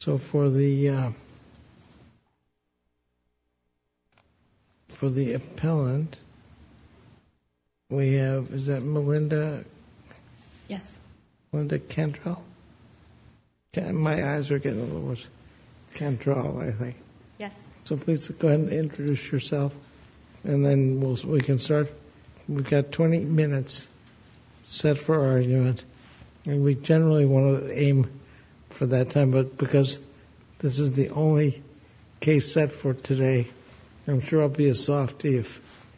So for the for the appellant we have is that Melinda? Yeah. Melinda Cantrell. My eyes are getting a little... Cantrell I think. Yeah. So please go ahead and introduce yourself and then we can start. We've got 20 minutes set for our unit and we generally want to aim for that time but because this is the only case set for today I'm sure I'll be a softy if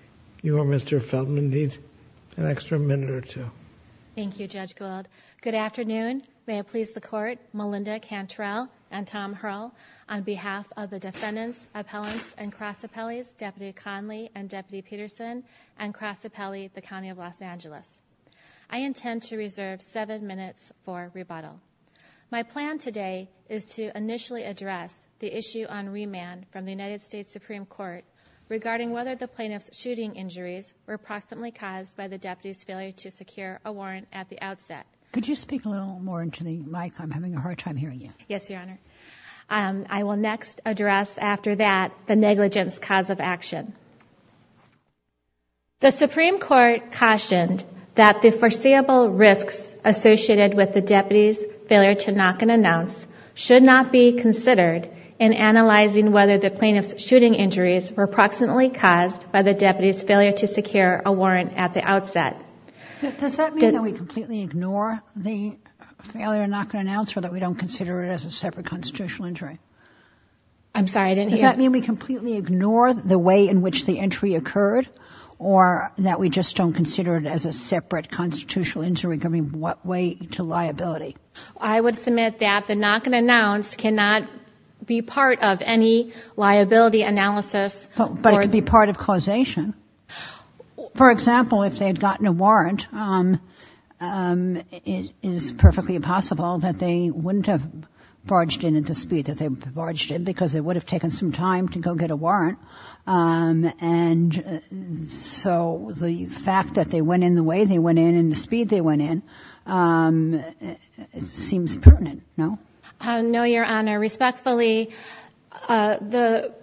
you or Mr. Felton need an extra minute or two. Thank you Judge Gold. Good afternoon. May I please support Melinda Cantrell and Tom Hurl on behalf of the defendants, appellants and cross appellees, Deputy Conley and Deputy Peterson and cross appellees the County of Los Angeles. I My plan today is to initially address the issue on remand from the United States Supreme Court regarding whether the plaintiff's shooting injuries were proximately caused by the deputy's failure to secure a warrant at the outset. Could you speak a little more into the mic? I'm having a hard time hearing you. Yes your honor. I will next address after that the negligence cause of action. The Supreme Court cautioned that the foreseeable risks associated with the deputy's failure to knock and announce should not be considered in analyzing whether the plaintiff's shooting injuries were proximately caused by the deputy's failure to secure a warrant at the outset. Does that mean we completely ignore the failure to knock and announce or that we don't consider it as a separate constitutional injury? I'm sorry I didn't hear. Does that mean we completely ignore the way in which the entry occurred or that we just don't consider it as a separate constitutional injury? What way to liability? I would submit that the knock and announce cannot be part of any liability analysis. But it could be part of causation. For example, if they've gotten a warrant, it is perfectly possible that they wouldn't have barged in at the speed that they barged in because they would have taken some time to go get a warrant and so the fact that they went in the way they went in and the speed they went in seems pertinent, no? No, Your Honor. Respectfully, the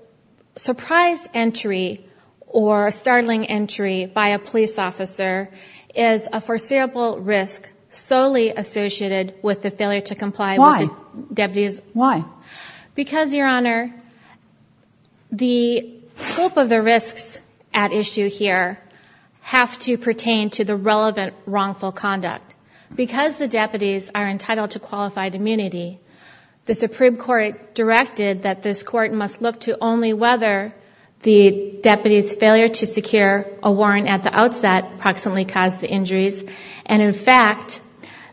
surprise entry or startling entry by a police officer is a foreseeable risk solely associated with the failure to comply. Why? Because, Your Relevant wrongful conduct. Because the deputies are entitled to qualified immunity, the Supreme Court directed that this court must look to only whether the deputies' failure to secure a warrant at the outset approximately caused the injuries. And in fact,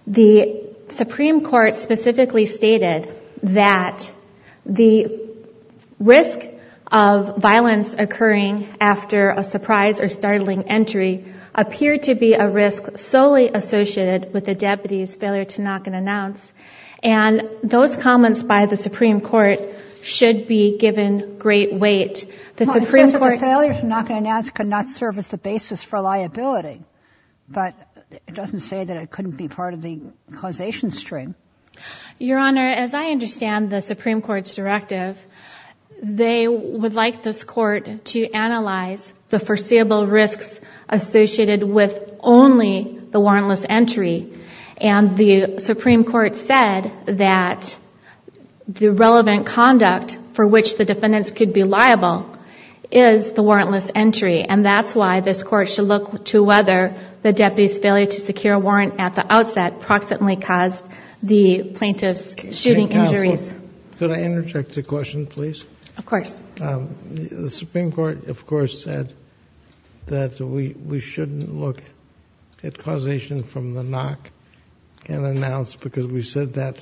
the Supreme Court specifically stated that the risk of associated with the deputies' failure to knock and announce, and those comments by the Supreme Court should be given great weight. The Supreme Court's failure to knock and announce could not serve as the basis for liability, but it doesn't say that it couldn't be part of the causation stream. Your Honor, as I understand the Supreme Court's directive, they would like this court to analyze the foreseeable risks associated with only the warrantless entry, and the Supreme Court said that the relevant conduct for which the defendants could be liable is the warrantless entry, and that's why this court should look to whether the deputies' failure to secure a warrant at the outset approximately caused the plaintiff's shooting injuries. Could I interject a question, please? Of course. The Supreme Court, of course, said that we shouldn't look at causation from the knock and announce because we said that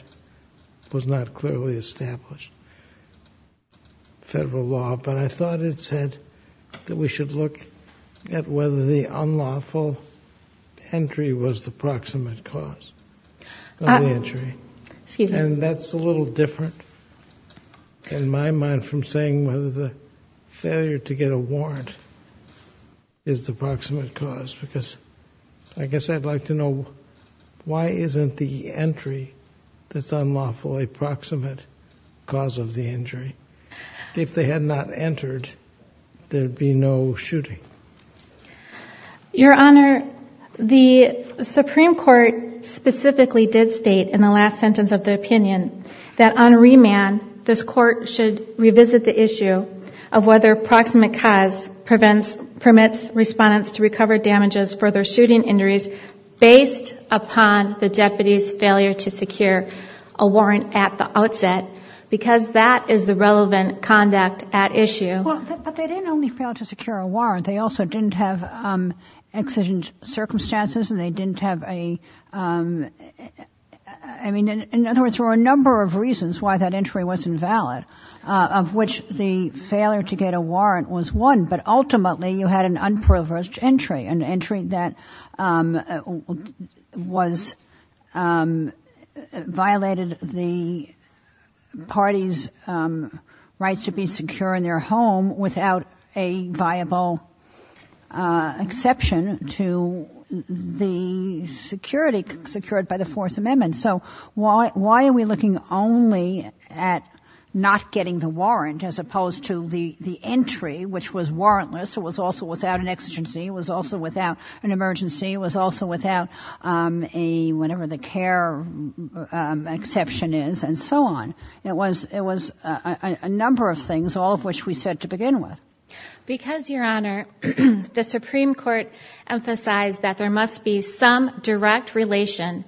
was not clearly established federal law, but I thought it said that we should look at whether the unlawful entry was the proximate cause of the injury, and that's a little different in my mind from saying whether the failure to get a warrant is the proximate cause, because I guess I'd like to know why isn't the entry that's unlawful a proximate cause of the injury? If they had not entered, there'd be no shooting. Your Honor, the Supreme Court specifically did state in the last sentence of the opinion that on the issue of whether proximate cause permits respondents to recover damages for their shooting injuries based upon the deputies' failure to secure a warrant at the outset because that is the relevant conduct at issue. But they didn't only fail to secure a warrant, they also didn't have exigent circumstances and they didn't have a, I mean, in other words, there were a number of reasons why that entry was invalid, of which the failure to get a warrant was one, but ultimately you had an unprivileged entry, an entry that was violated the party's rights to be secure in their home without a viable exception to the security secured by the Fourth Amendment. So why are we looking only at not getting the warrant as opposed to the entry, which was warrantless, it was also without an exigency, it was also without an emergency, it was also without a, whatever the care exception is, and so on. It was a number of things, all of which we said to begin with. Because, Your Honor, the Supreme Court emphasized that there must be some direct relation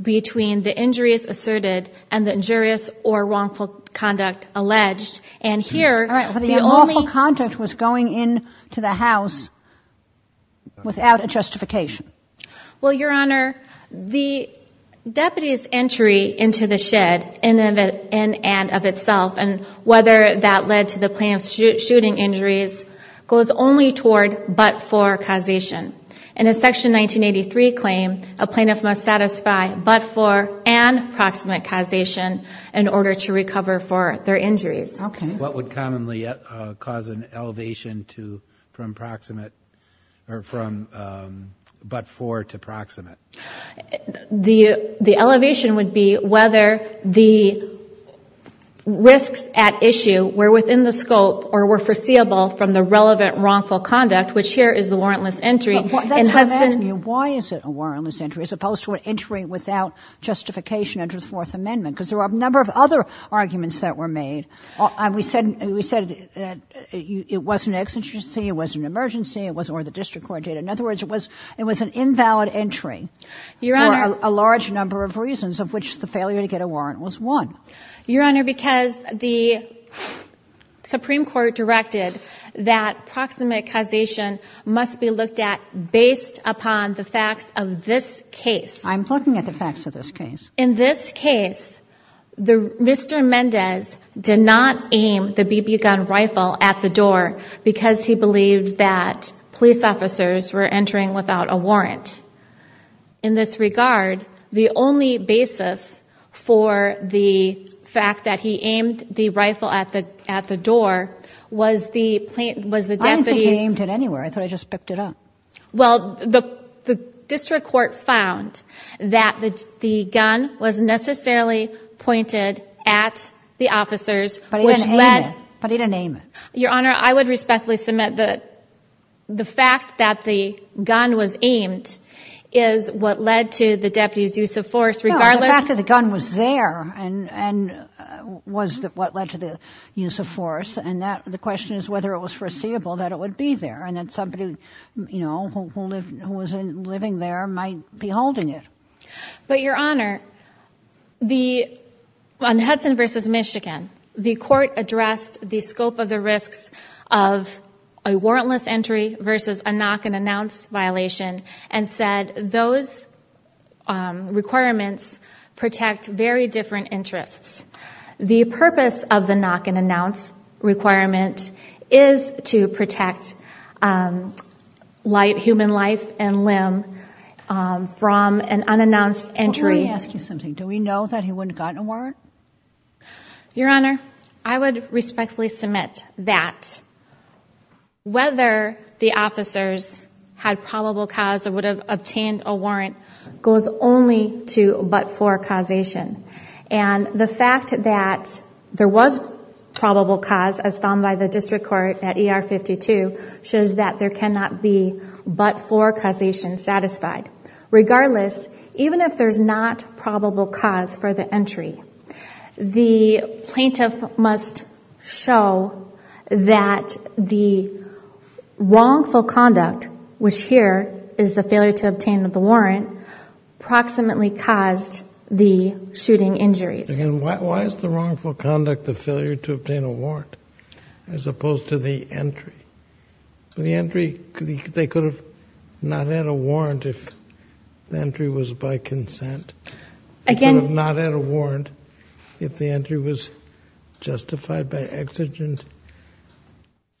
between the injuries asserted and the injurious or wrongful conduct alleged, and here... But the wrongful conduct was going in to the house without a justification. Well, Your Honor, the deputies' entry into the shed, in and of itself, and whether that led to the planned shooting injuries, goes only toward but-for causation. In a Section 1983 claim, a plaintiff must satisfy but-for and proximate causation in order to recover for their injuries. Okay. What would commonly cause an elevation to, from proximate, or from but-for to proximate? The elevation would be whether the risks at issue were within the scope or were foreseeable from the relevant wrongful conduct, which here is the warrantless entry, and has been... But that's what I'm asking you. Why is it a warrantless entry, as opposed to an entry without justification under the Fourth Amendment? Because there are a number of other arguments that were made. We said it was an exigency, it was an emergency, it was one of the district court data. In other words, it was an invalid entry for a large number of reasons, of which the failure to get a warrant was one. Your Honor, because the Supreme Court directed that proximate causation must be looked at based upon the facts of this case. I'm looking at the facts of this case. In this case, Mr. Mendez did not aim the BB gun rifle at the door because he believed that police officers were entering without a warrant. In this case, however, the fact that he aimed the rifle at the door was the deputy's... I don't think he aimed it anywhere. I thought he just picked it up. Well, the district court found that the gun was necessarily pointed at the officers, which led... But he didn't aim it. Your Honor, I would respectfully submit that the fact that the gun was aimed is what led to the deputy's use of force, regardless... The fact that the gun was there was what led to the use of force, and the question is whether it was foreseeable that it would be there, and that somebody who was living there might be holding it. But, Your Honor, on Hudson v. Michigan, the court addressed the scope of the risks of a warrantless entry versus a knock-and-announce violation, and said those requirements protect very different interests. The purpose of the knock-and-announce requirement is to protect human life and limb from an unannounced entry. Before I ask you something, do we know that he wouldn't have gotten a warrant? Your Honor, I would respectfully submit that whether the officers had probable cause or would have obtained a warrant goes only to but-for causation, and the fact that there was probable cause, as found by the district court at ER 52, shows that there cannot be but-for causation satisfied. Regardless, even if there's not probable cause for the entry, the plaintiff must show that the wrongful conduct, which here is the failure to obtain the warrant, approximately caused the shooting injury. And why is the wrongful conduct the failure to obtain a warrant, as opposed to the entry? The entry, they could have not had a warrant if the entry was by consent. Again, not had a warrant if the entry was justified by exigent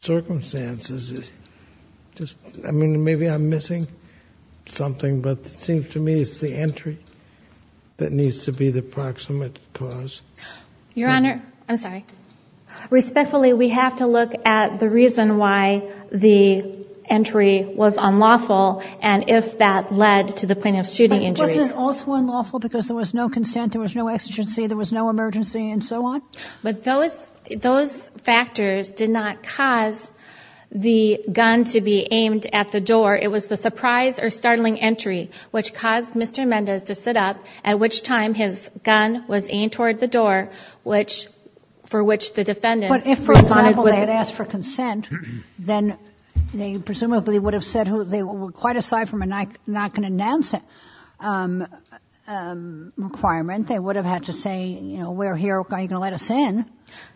circumstances. Just, I mean, maybe I'm missing something, but it seems to me it's the entry that needs to be the proximate cause. Your Honor, I'm sorry. Respectfully, we have to look at the and if that led to the plaintiff's shooting injury. Was it also unlawful because there was no consent, there was no exigency, there was no emergency, and so on? But those factors did not cause the gun to be aimed at the door. It was the surprise or startling entry which caused Mr. Mendez to sit up, at which time his gun was aimed toward the door, which, for which the defendant... But if, for example, they had for consent, then they presumably would have said who they were quite aside from a not going to announce it requirement. They would have had to say, you know, we're here, are you going to let us in?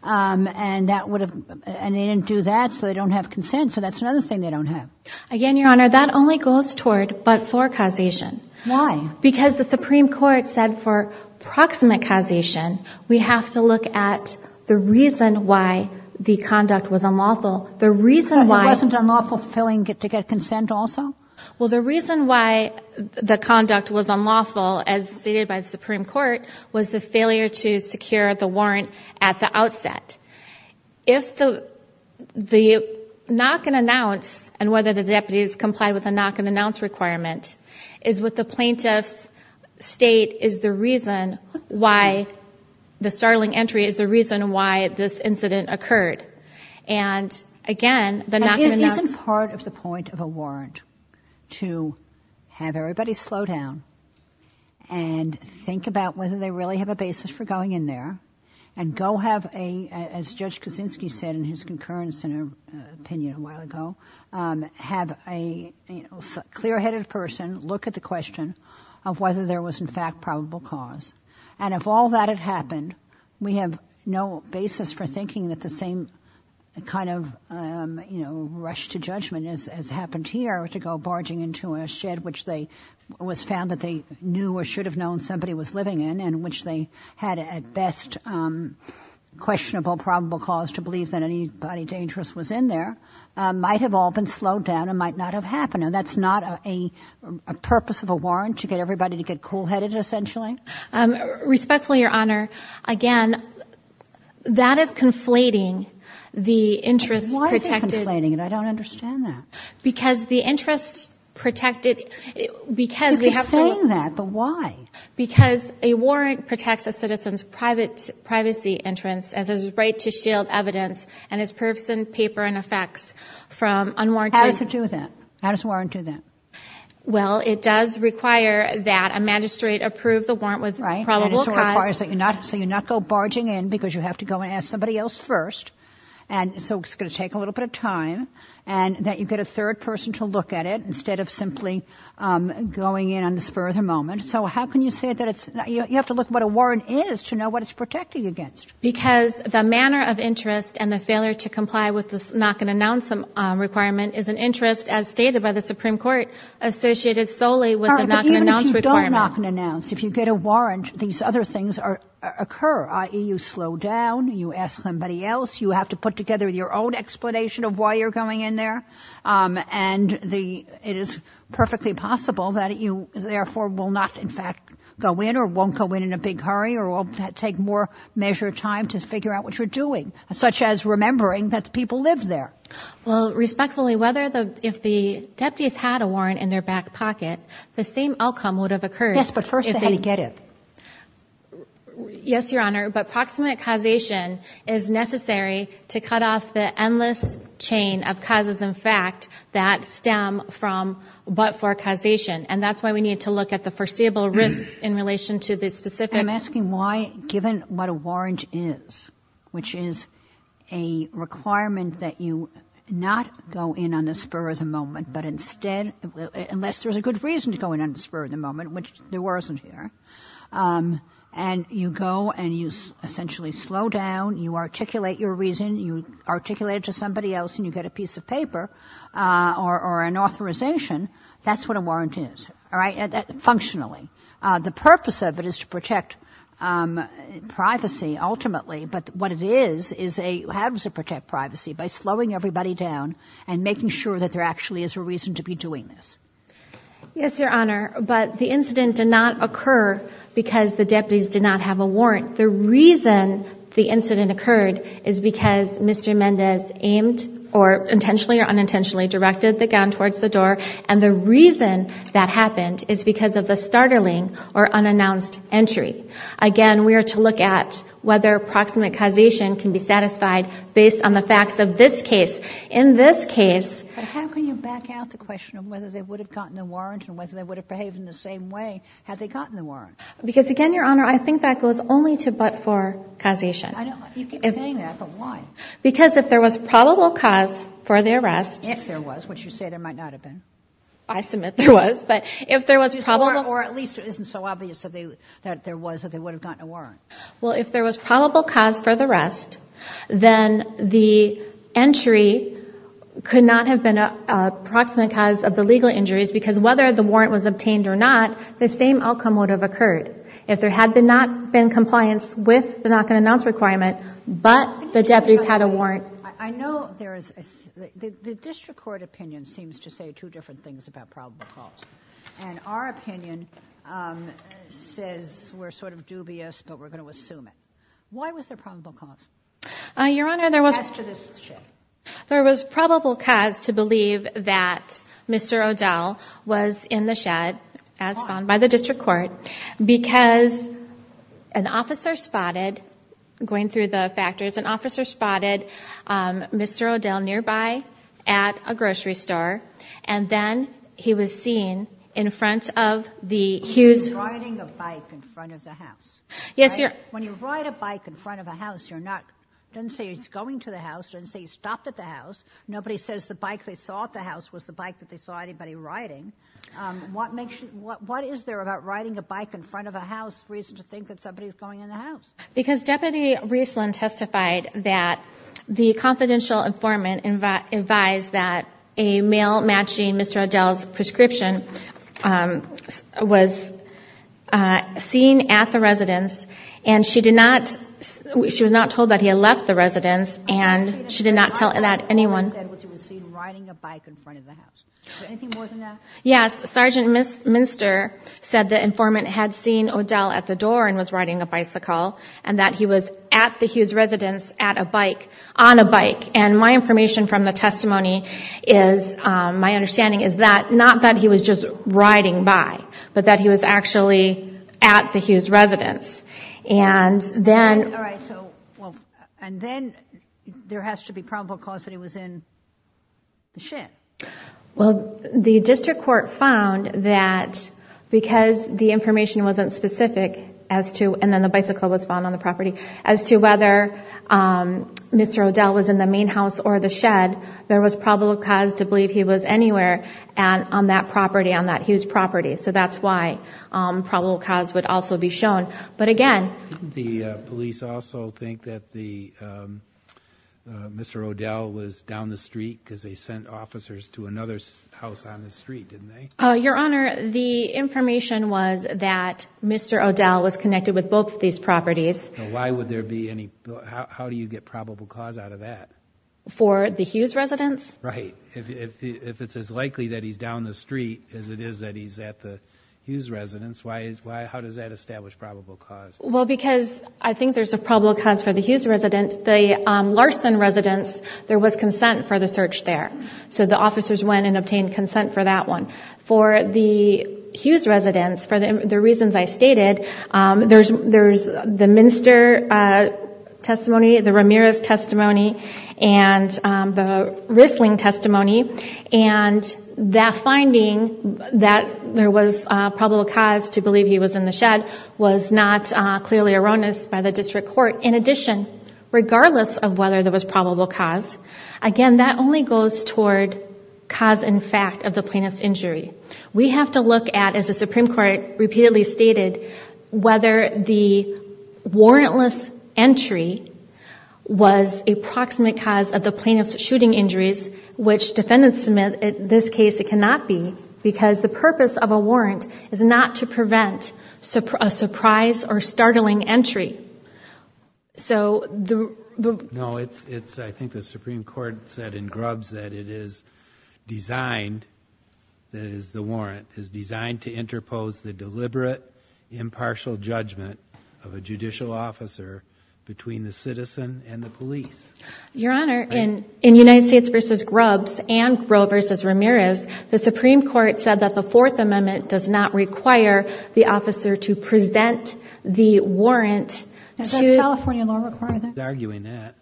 And that would have, and they didn't do that so they don't have consent, so that's another thing they don't have. Again, Your Honor, that only goes toward but for causation. Why? Because the Supreme Court said for proximate causation, we have to look at the reason why the conduct was unlawful. The reason why... It wasn't unlawful to tell him to get consent also? Well, the reason why the conduct was unlawful, as stated by the Supreme Court, was the failure to secure the warrant at the outset. If the knock and announce, and whether the deputies comply with a knock and announce requirement, is what the plaintiffs state is the reason why the startling entry is the reason why this and again, the knock and announce... It isn't part of the point of a warrant to have everybody slow down and think about whether they really have a basis for going in there and go have a, as Judge Kuczynski said in his concurrence in her opinion a while ago, have a clear-headed person look at the question of whether there was in fact probable cause and if all that had happened, we have no basis for thinking that the same kind of rush to judgment as happened here to go barging into a shed which they was found that they knew or should have known somebody was living in and which they had at best questionable probable cause to believe that anybody dangerous was in there, might have all been slowed down and might not have happened and that's not a purpose of a warrant to get everybody to get cool-headed essentially? Respectfully, Your Honor, again, that is conflating the interest protected... Why is it conflating? I don't understand that. Because the interest protected... You keep saying that, but why? Because a warrant protects a citizen's privacy entrance as a right to shield evidence and its purpose and paper and effects from unwarranted... How does a warrant do that? Well, it does require that a warrant with probable cause... So you're not going barging in because you have to go and ask somebody else first and so it's going to take a little bit of time and that you get a third person to look at it instead of simply going in on the spur of the moment. So how can you say that it's... You have to look at what a warrant is to know what it's protecting against. Because the manner of interest and the failure to comply with the not-going-to-announce requirement is an interest as stated by the Supreme Court associated solely with the not-going-to-announce requirement. If you don't not-go-to-announce, if you get a warrant, these other things occur, i.e., you slow down, you ask somebody else, you have to put together your own explanation of why you're going in there, and it is perfectly possible that you therefore will not, in fact, go in or won't go in in a big hurry or will take more measured time to figure out what you're doing, such as remembering that people live there. Well, respectfully, if the deputies had a warrant in their back pocket, the same outcome would have occurred if they... Yes, but first they had to get it. Yes, Your Honor, but proximate causation is necessary to cut off the endless chain of causes in fact that stem from but-for causation, and that's why we need to look at the foreseeable risks in relation to the specific... I'm asking why, given what a warrant is, which is a requirement that you not go in on the spur of the moment, but instead, unless there's a good reason to go in on the spur of the moment, which there wasn't here, and you go and you essentially slow down, you articulate your reason, you articulate it to somebody else, and you get a piece of paper or an authorization, that's what a warrant is, all right, functionally. The purpose of it is to protect privacy, ultimately, but what it is, is it happens to protect privacy by slowing everybody down and making sure that there actually is a reason to be doing this. Yes, Your Honor, but the incident did not occur because the deputies did not have a warrant. The reason the incident occurred is because Mr. Mendez aimed or intentionally or unintentionally directed the gun towards the door, and the reason that happened is because of the startling or unannounced entry. Again, we are to look at whether proximate causation can be satisfied based on the facts of this case. But how can you back out the question of whether they would have gotten a warrant and whether they would have behaved in the same way had they gotten a warrant? Because, again, Your Honor, I think that goes only to but-for causation. I don't know if you can say that, but why? Because if there was probable cause for the arrest… If there was, which you say there might not have been. I submit there was, but if there was probable… Or at least it isn't so obvious that there was, that they would have gotten a warrant. Well, if there was probable cause for the arrest, then the entry could not have been a proximate cause of the legal injuries because whether the warrant was obtained or not, the same outcome would have occurred. If there had not been compliance with the not-to-be-announced requirement, but the deputies had a warrant… The district court opinion seems to say two different things about probable cause. And our opinion says we're sort of dubious, but we're going to assume it. Why was there probable cause? Your Honor, there was probable cause to believe that Mr. O'Dell was in the shed, as found by the district court, because an officer spotted, going through the factories, an officer spotted Mr. O'Dell nearby at a grocery store. And then he was seen in front of the huge… He was riding a bike in front of the house. Yes, Your Honor. When you ride a bike in front of a house, you're not… It doesn't say he's going to the house. It doesn't say he stopped at the house. Nobody says the bike they saw at the house was the bike that they saw anybody riding. What makes you… What is there about riding the bike in front of a house for you to think that somebody's following in the house? Because Deputy Riesland testified that the confidential informant advised that a male-matching Mr. O'Dell's prescription was seen at the residence, and she did not… She was not told that he had left the residence, and she did not tell that anyone… Anything more than that? Yes. Sergeant Minster said the informant had seen O'Dell at the door and was riding a bicycle, and that he was at the Hughes residence at a bike, on a bike. And my information from the testimony is, my understanding is that, not that he was just riding by, but that he was actually at the Hughes residence. And then… Well, the district court found that because the information wasn't specific as to… And then the bicycle was found on the property. As to whether Mr. O'Dell was in the main house or the shed, there was probable cause to believe he was anywhere on that property, on that Hughes property. So that's why probable cause would also be shown. But again… Didn't the police also think that Mr. O'Dell was down the street because they sent officers to another house on the street, didn't they? Your Honor, the information was that Mr. O'Dell was connected with both of these properties. Why would there be any… How do you get probable cause out of that? For the Hughes residence? Right. If it's as likely that he's down the street as it is that he's at the Hughes residence, how does that establish probable cause? Well, because I think there's a probable cause for the Hughes residence. The Larson residence, there was consent for the search there. So the officers went and obtained consent for that one. For the Hughes residence, for the reasons I stated, there's the Minster testimony, the Ramirez testimony, and the Rissling testimony. And that finding that there was probable cause to believe he was in the shed was not clearly erroneous by the district court. In addition, regardless of whether there was probable cause, again, that only goes toward cause in fact of the plaintiff's injury. We have to look at, as the Supreme Court repeatedly stated, whether the warrantless entry was a proximate cause of the plaintiff's shooting injuries, which defendants submit in this case it cannot be because the purpose of a warrant is not to prevent a surprise or startling entry. No, I think the Supreme Court said in Grubbs that it is designed, that it is the warrant is designed to interpose the deliberate, impartial judgment of a judicial officer between the citizen and the police. Your Honor, in United States v. Grubbs and Breaux v. Ramirez, the Supreme Court said that the Fourth Amendment does not require the officer to present the warrant to Is that a California law requirement? She's arguing that.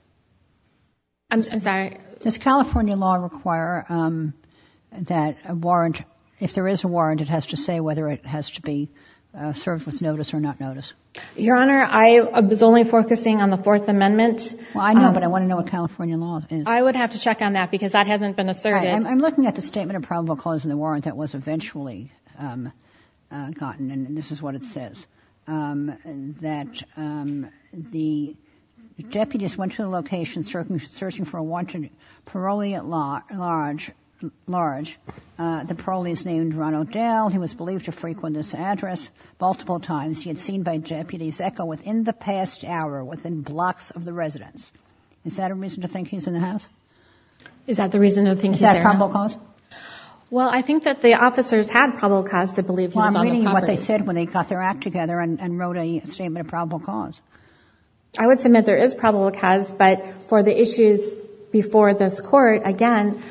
I'm sorry. Does California law require that a warrant, if there is a warrant, it has to say whether it has to be served with notice or not notice? Your Honor, I was only focusing on the Fourth Amendment. Well, I know, but I want to know what California law is. I would have to check on that because that hasn't been asserted. I'm looking at the statement of probable cause in the warrant that was eventually gotten, and this is what it says, that the deputies went to the location searching for a wanted parolee at large. The parolee is named Ronald Dale. He was believed to frequent this address multiple times. He had seen by deputies echo within the past hour within blocks of the residence. Is that the reason you're thinking that? Is that probable cause? Well, I think that the officers had probable cause to believe Ronald Dale. Well, I'm reading what they said when they got their act together and wrote a statement of probable cause. I would submit there is probable cause, but for the issues before this court, again,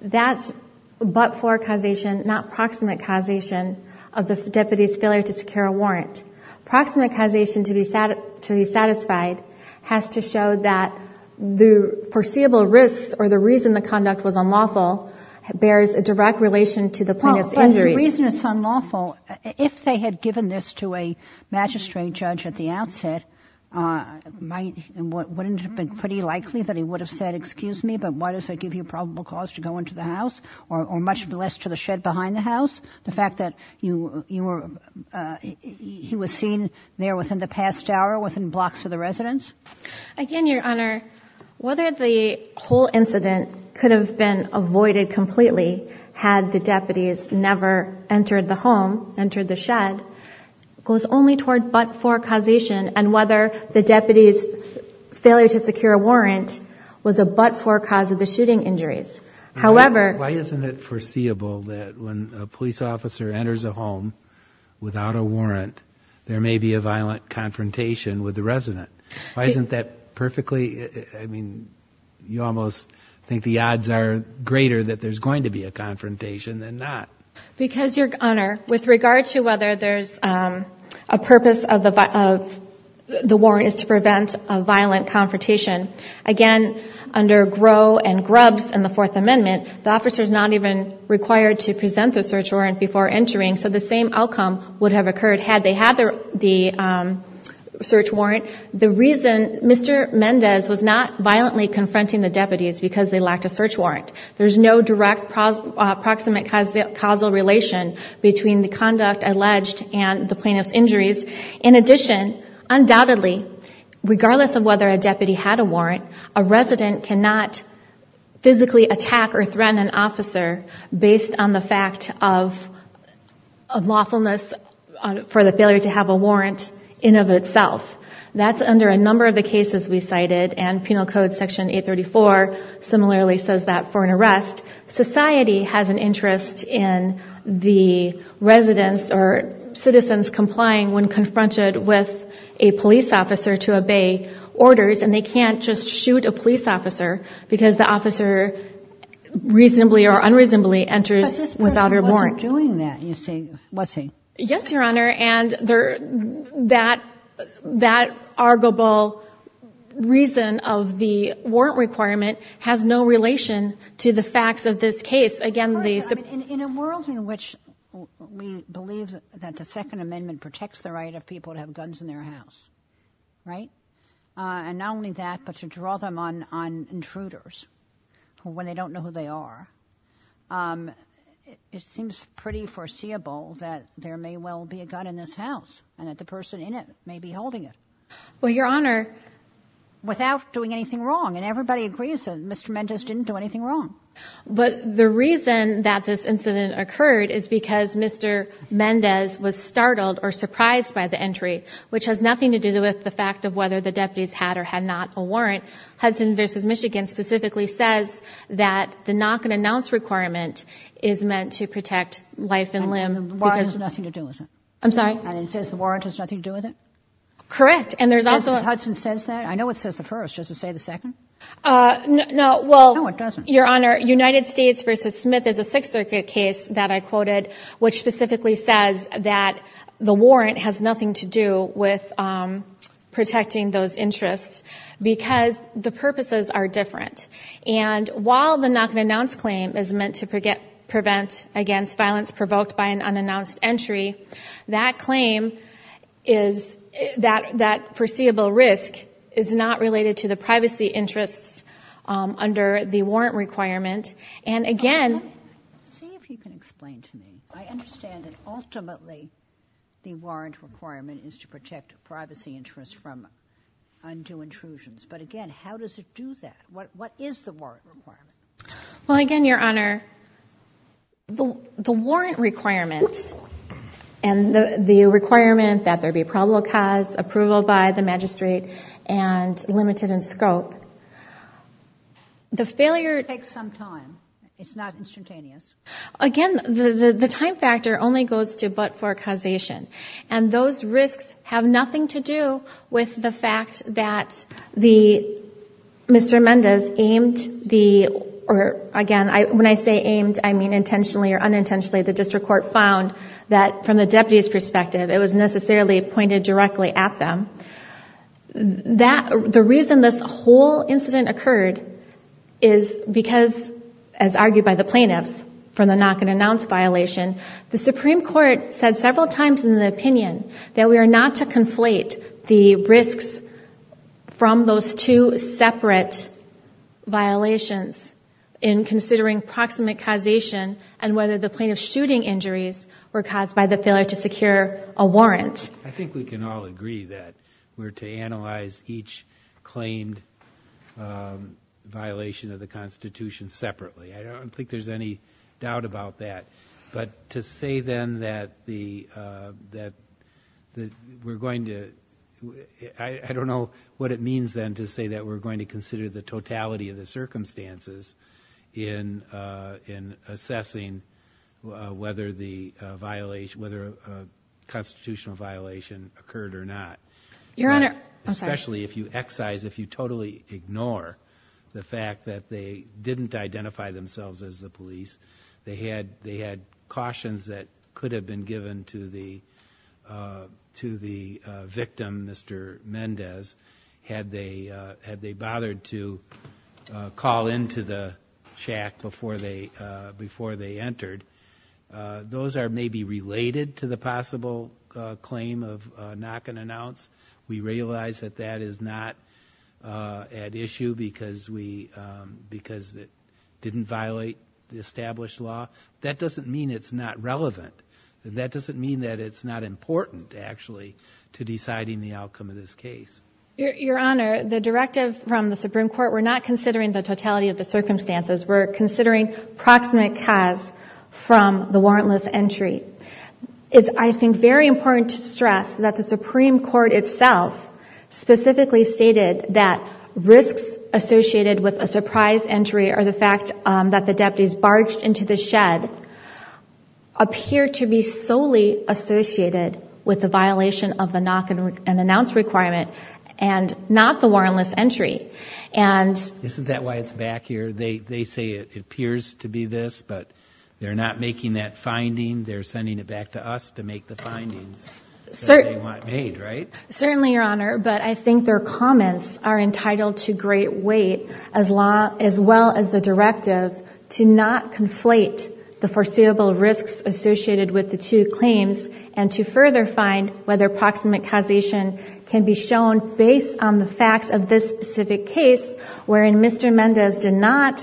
that's but-for causation, not proximate causation of this deputy's failure to secure a warrant. Proximate causation to be satisfied has to show that the foreseeable risks or the reason the conduct was unlawful bears a direct relation to the point of injury. Well, the reason it's unlawful, if they had given this to a magistrate judge at the outset, wouldn't it have been pretty likely that he would have said, excuse me, but why does it give you probable cause to go into the house or much less to the shed behind the house? The fact that he was seen there within the past hour, within blocks of the residence? Again, Your Honor, whether the whole incident could have been avoided completely had the deputies never entered the home, entered the shed, goes only toward but-for causation and whether the deputy's failure to secure a warrant was a but-for cause of the shooting injuries. Why isn't it foreseeable that when a police officer enters a home without a warrant, there may be a violent confrontation with the resident? Why isn't that perfectly, I mean, you almost think the odds are greater that there's going to be a confrontation than not. Because, Your Honor, with regard to whether there's a purpose of the warrant is to prevent a violent confrontation. Again, under Groh and Grubbs in the Fourth Amendment, the officer's not even required to present the search warrant before entering, so the same outcome would have occurred had they had the search warrant. The reason Mr. Mendez was not violently confronting the deputies is because they lacked a search warrant. There's no direct proximate causal relation between the conduct alleged and the plaintiff's injuries. In addition, undoubtedly, regardless of whether a deputy had a warrant, a resident cannot physically attack or threaten an officer based on the fact of lawfulness for the failure to have a warrant in and of itself. That's under a number of the cases we cited, and Penal Code Section 834 similarly says that for an arrest, society has an interest in the residents or citizens complying when confronted with a police officer to obey orders, and they can't just shoot a police officer because the officer reasonably or unreasonably enters without a warrant. But this person wasn't doing that, you say, was he? Yes, Your Honor, and that arguable reason of the warrant requirement has no relation to the facts of this case. In a world in which we believe that the Second Amendment protects the right of people to have guns in their house, and not only that but to draw them on intruders when they don't know who they are, it seems pretty foreseeable that there may well be a gun in this house and that the person in it may be holding it. Well, Your Honor, without doing anything wrong, and everybody agrees that Mr. Mendez didn't do anything wrong. But the reason that this incident occurred is because Mr. Mendez was startled or surprised by the entry, which has nothing to do with the fact of whether the deputies had or had not a warrant. Hudson v. Michigan specifically says that the knock-and-announce requirement is meant to protect wife and limb. And the warrant has nothing to do with it? I'm sorry? And it says the warrant has nothing to do with it? Correct. So Hudson says that? I know it says the first. Does it say the second? No, well, Your Honor, United States v. Smith is a Sixth Circuit case that I quoted which specifically says that the warrant has nothing to do with protecting those interests because the purposes are different. And while the knock-and-announce claim is meant to prevent against violence provoked by an unannounced entry, that claim is that that foreseeable risk is not related to the privacy interests under the warrant requirement. And again... See if you can explain to me. I understand that ultimately the warrant requirement is to protect privacy interests from undue intrusions. But again, how does it do that? What is the warrant requirement? Well, again, Your Honor, the warrant requirement and the requirement that there be probable cause, approval by the magistrate, and limited in scope, the failure... It takes some time. It's not instantaneous. Again, the time factor only goes to but for causation. And those risks have nothing to do with the fact that the... Mr. Mendez aimed the... Again, when I say aimed, I mean intentionally or unintentionally. The district court found that from the deputy's perspective it was necessarily pointed directly at them. The reason this whole incident occurred is because, as argued by the plaintiffs for the knock-and-announce violation, the Supreme Court said several times in the opinion that we are not to conflate the risks from those two separate violations in considering proximate causation and whether the plaintiff's shooting injuries were caused by the failure to secure a warrant. I think we can all agree that we're to analyze each claimed violation of the Constitution separately. I don't think there's any doubt about that. But to say, then, that we're going to... I don't know what it means, then, to say that we're going to consider the totality of the circumstances in assessing whether the constitutional violation occurred or not. Your Honor... Especially if you excise, if you totally ignore the fact that they didn't identify themselves as the police. They had cautions that could have been given to the victim, Mr. Mendez, had they bothered to call into the chat before they entered. Those are maybe related to the possible claim of knock-and-announce. We realize that that is not at issue because it didn't violate the established law. That doesn't mean it's not relevant. That doesn't mean that it's not important, actually, to deciding the outcome of this case. Your Honor, the directive from the Supreme Court, we're not considering the totality of the circumstances. We're considering proximate cause from the warrantless entry. It's, I think, very important to stress that the Supreme Court itself specifically stated that risks associated with a surprise entry or the fact that the deputies barged into the shed appear to be solely associated with the violation of the knock-and-announce requirement and not the warrantless entry. Isn't that why it's back here? They say it appears to be this, but they're not making that finding. They're sending it back to us to make the finding that they want made, right? Certainly, Your Honor, but I think their comments are entitled to great weight, as well as the directive, to not conflate the foreseeable risks associated with the two claims and to further find whether proximate causation can be shown based on the fact of this specific case wherein Mr. Mendez did not,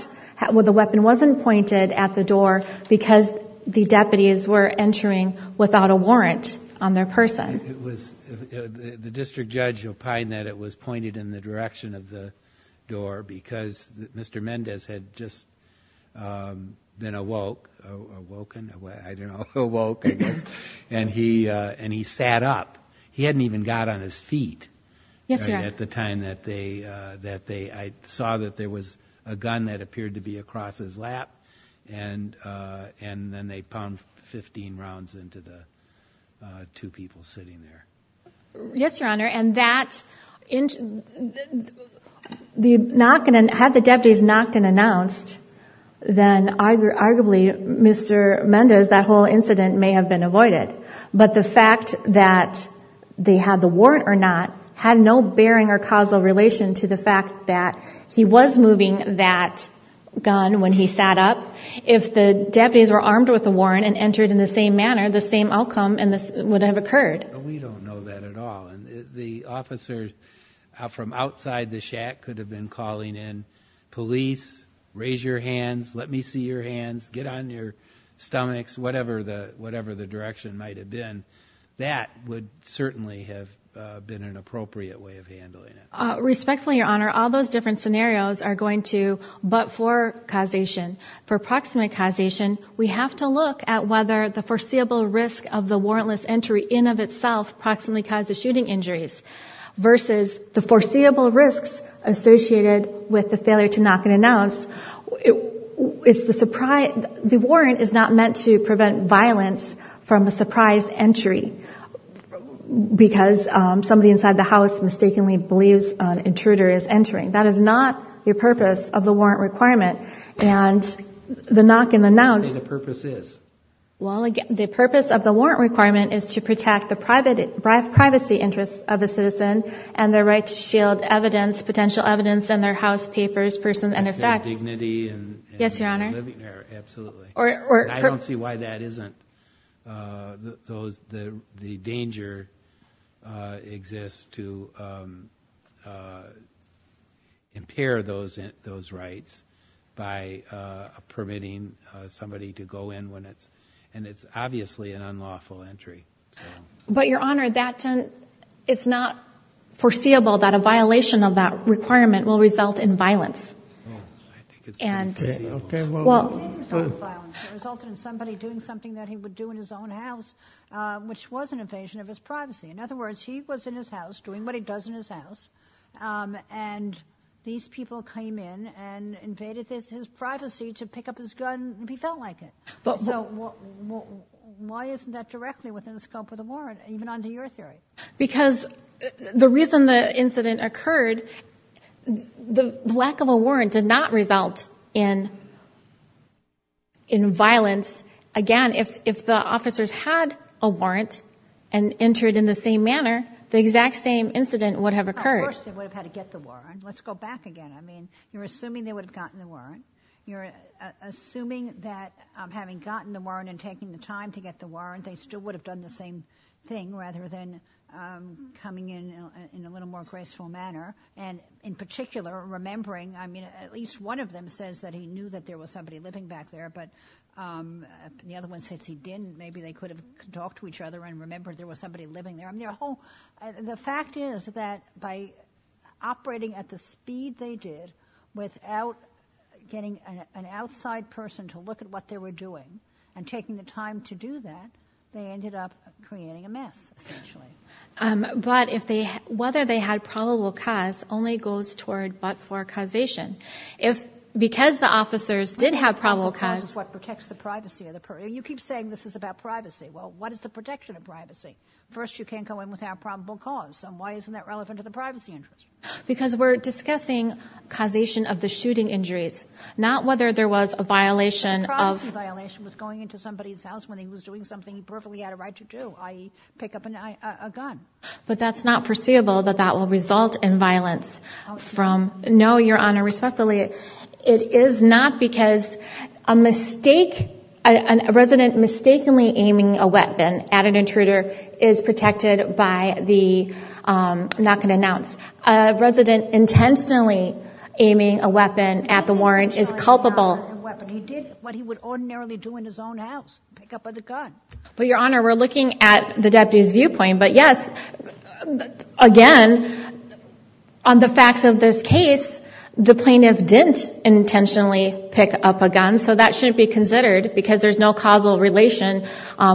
where the weapon wasn't pointed at the door because the deputies were entering without a warrant on their person. The district judge opined that it was pointed in the direction of the door because Mr. Mendez had just been awoke, awoken, I don't know, awoke, and he sat up. He hadn't even got on his feet at the time that they, I saw that there was a gun that appeared to be across his lap and then they pounded 15 rounds into the two people sitting there. Yes, Your Honor, and that, had the deputies not been announced, then arguably Mr. Mendez, that whole incident may have been avoided, but the fact that they had the warrant or not had no bearing or causal relation to the fact that he was moving that gun when he sat up. If the deputies were armed with the warrant and entered in the same manner, the same outcome would have occurred. We don't know that at all. The officers from outside the shack could have been calling in, police, raise your hands, let me see your hands, get on your stomachs, whatever the direction might have been. That would certainly have been an appropriate way of handling it. Respectfully, Your Honor, all those different scenarios are going to, but for causation, for proximate causation, we have to look at whether the foreseeable risk of the warrantless entry in of itself proximately causes shooting injuries versus the foreseeable risks associated with the failure to knock and announce. It's the surprise, the warrant is not meant to prevent violence from a surprise entry because somebody inside the house mistakenly believes an intruder is entering. That is not the purpose of the warrant requirement. And the knock and announce... What do you think the purpose is? The purpose of the warrant requirement is to protect the privacy interests of the citizen and their right to shield evidence, potential evidence in their house, papers, persons, and their facts. Their dignity and living area. Yes, Your Honor. Absolutely. I don't see why that isn't... The danger exists to impair those rights by permitting somebody to go in when it's... And it's obviously an unlawful entry. But, Your Honor, it's not foreseeable that a violation of that requirement will result in violence. Okay, well... ...result in somebody doing something that he would do in his own house, which was an invasion of his privacy. In other words, he was in his house doing what he does in his house and these people came in and invaded his privacy to pick up his gun if he felt like it. Why isn't that directly within the scope of the warrant, even under your theory? Because the reason the incident occurred, the lack of a warrant did not result in violence. Again, if the officers had a warrant and entered in the same manner, the exact same incident would have occurred. Of course they would have had to get the warrant. Let's go back again. I mean, you're assuming they would have gotten the warrant. You're assuming that having gotten the warrant and taking the time to get the warrant, they still would have done the same thing rather than coming in in a little more graceful manner and, in particular, remembering... I mean, at least one of them says that he knew that there was somebody living back there, but the other one says he didn't. Maybe they could have talked to each other and remembered there was somebody living there. The fact is that by operating at the speed they did without getting an outside person to look at what they were doing and taking the time to do that, they ended up creating a mess, essentially. But whether they had probable cause only goes toward but-for causation. Because the officers did have probable cause... What protects the privacy of the person? You keep saying this is about privacy. Well, what is the protection of privacy? First, you can't go in without probable cause. Then why isn't that relevant to the privacy? Because we're discussing causation of the shooting injuries, not whether there was a violation of... If a shooting violation was going into somebody's house when he was doing something he perfectly had a right to do, i.e. pick up a gun. But that's not foreseeable that that will result in violence from... No, Your Honour, respectfully, it is not because a resident mistakenly aiming a weapon at an intruder is protected by the... I'm not going to announce. A resident intentionally aiming a weapon at the warrant is culpable... He did what he would ordinarily do in his own house, pick up a gun. But, Your Honour, we're looking at the deputy's viewpoint. But, yes, again, on the facts of this case, the plaintiff didn't intentionally pick up a gun, so that shouldn't be considered because there's no causal relation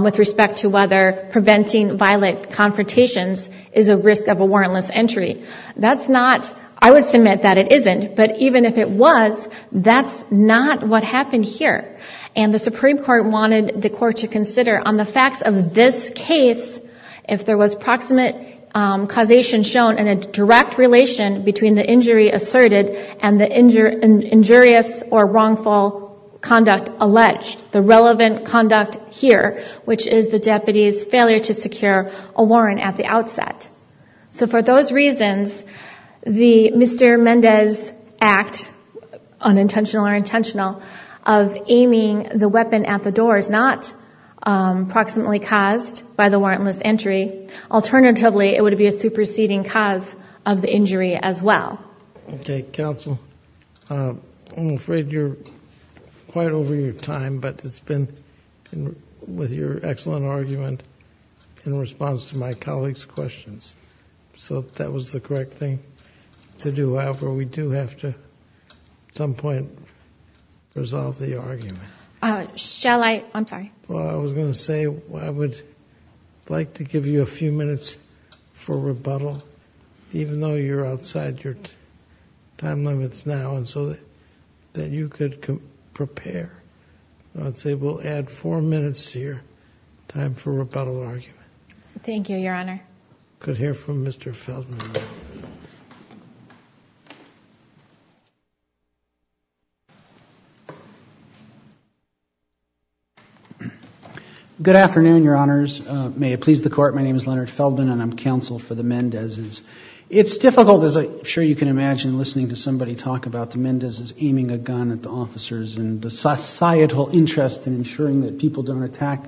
with respect to whether preventing violent confrontations is a risk of a warrantless entry. That's not... I would submit that it isn't. But even if it was, that's not what happened here. And the Supreme Court wanted the court to consider, on the facts of this case, if there was proximate causation shown and a direct relation between the injury asserted and the injurious or wrongful conduct alleged, the relevant conduct here, which is the deputy's failure to secure a warrant at the outset. So for those reasons, the Mr. Mendez Act, unintentional or intentional, of aiming the weapon at the door is not proximately caused by the warrantless entry. Alternatively, it would be a superseding cause of the injury as well. Okay, counsel. I'm afraid you're quite over your time, but it's been, with your excellent argument, in response to my colleague's questions. So that was the correct thing to do. However, we do have to, at some point, resolve the argument. Shall I? I'm sorry. Well, I was going to say I would like to give you a few minutes for rebuttal, even though you're outside your time limits now, and so that you could prepare. I'd say we'll add four minutes to your time for rebuttal argument. Thank you, Your Honor. We could hear from Mr. Feldman. Good afternoon, Your Honors. May it please the Court, my name is Leonard Feldman, and I'm counsel for the Mendezes. It's difficult, as I'm sure you can imagine, listening to somebody talk about the Mendezes aiming a gun at the officers and the societal interest in ensuring that people don't attack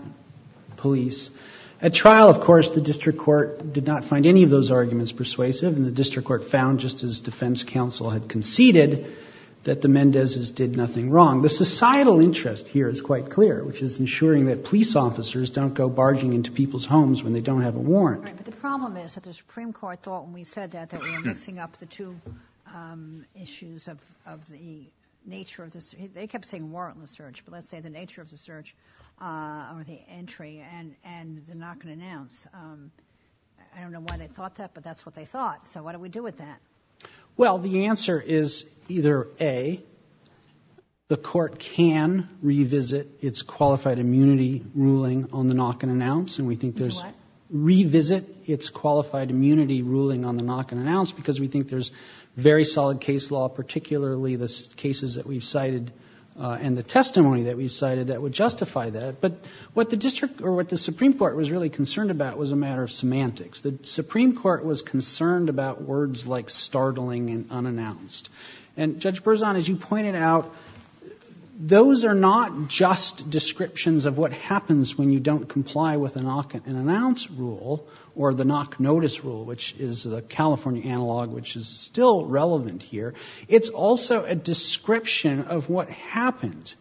police. At trial, of course, the district court did not find any of those arguments persuasive, and the district court found, just as defense counsel had conceded, that the Mendezes did nothing wrong. The societal interest here is quite clear, which is ensuring that police officers don't go barging into people's homes when they don't have a warrant. But the problem is that the Supreme Court thought when we said that we were mixing up the two issues of the nature of the search, they kept saying warrantless search, but let's say the nature of the search or the entry and the knock and announce. I don't know why they thought that, but that's what they thought. So what do we do with that? Well, the answer is either A, the Court can revisit its qualified immunity ruling on the knock and announce, and we think there's revisit its qualified immunity ruling on the knock and announce because we think there's very solid case law, particularly the cases that we've cited and the testimony that we've cited that would justify that. But what the Supreme Court was really concerned about was a matter of semantics. The Supreme Court was concerned about words like startling and unannounced. And Judge Berzon, as you pointed out, those are not just descriptions of what happens when you don't comply with the knock and announce rule or the knock notice rule, which is the California analog, which is still relevant here. It's also a description of what happened.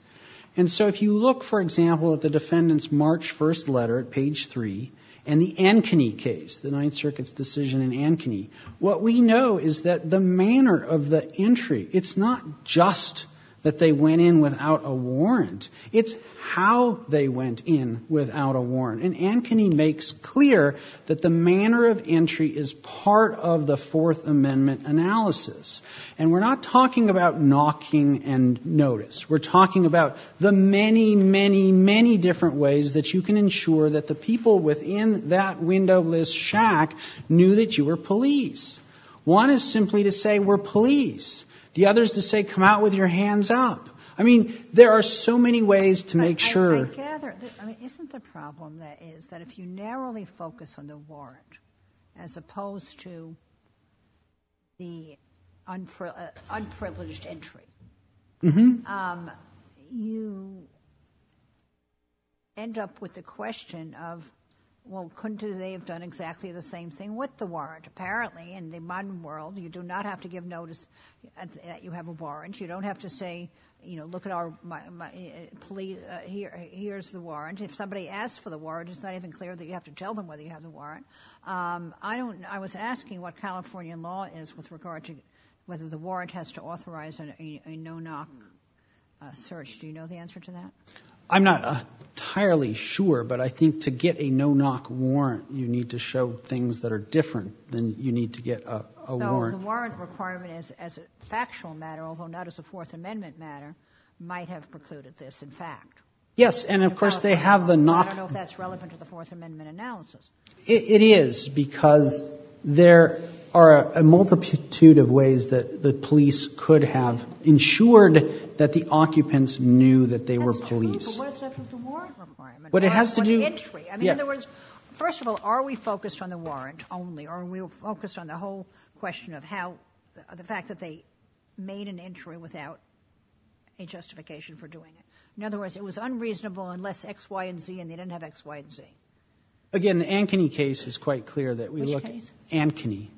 And so if you look, for example, at the defendant's March 1st letter at page 3 and the Ankeny case, the Ninth Circuit's decision in Ankeny, what we know is that the manner of the entry, it's not just that they went in without a warrant. It's how they went in without a warrant. And Ankeny makes clear that the manner of entry is part of the Fourth Amendment analysis. And we're not talking about knocking and notice. We're talking about the many, many, many different ways that you can ensure that the people within that windowless shack knew that you were police. One is simply to say we're police. The other is to say come out with your hands up. I mean, there are so many ways to make sure. Isn't the problem is that if you narrowly focus on the warrant as opposed to the unprivileged entry, you end up with the question of, well, couldn't they have done exactly the same thing with the warrant? Apparently, in the modern world, you do not have to give notice that you have a warrant. You don't have to say, look, here's the warrant. If somebody asks for the warrant, it's not even clear that you have to tell them whether you have the warrant. I was asking what Californian law is with regard to whether the warrant has to authorize a no-knock search. Do you know the answer to that? I'm not entirely sure, but I think to get a no-knock warrant, you need to show things that are different than you need to get a warrant. So the warrant requirement as a factual matter, although not as a Fourth Amendment matter, might have precluded this, in fact. Yes, and of course they have the no-knock. I don't know if that's relevant to the Fourth Amendment analysis. It is, because there are a multitude of ways that the police could have ensured that the occupants knew that they were police. But what's up with the warrant requirement? In other words, first of all, are we focused on the warrant only? Or are we focused on the whole question of the fact that they made an entry without a justification for doing it? In other words, it was unreasonable unless X, Y, and Z, and they didn't have X, Y, and Z. Again, the Ankeny case is quite clear that we look at Ankeny.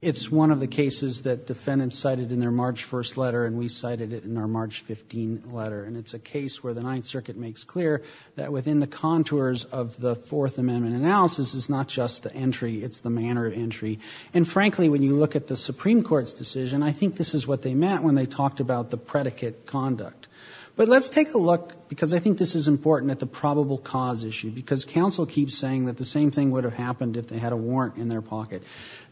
It's one of the cases that defendants cited in their March 1st letter, and we cited it in our March 15th letter. And it's a case where the Ninth Circuit makes clear that within the contours of the Fourth Amendment analysis is not just the entry, it's the manner of entry. And frankly, when you look at the Supreme Court's decision, I think this is what they meant when they talked about the predicate conduct. But let's take a look, because I think this is important, at the probable cause issue, because counsel keeps saying that the same thing would have happened if they had a warrant in their pocket.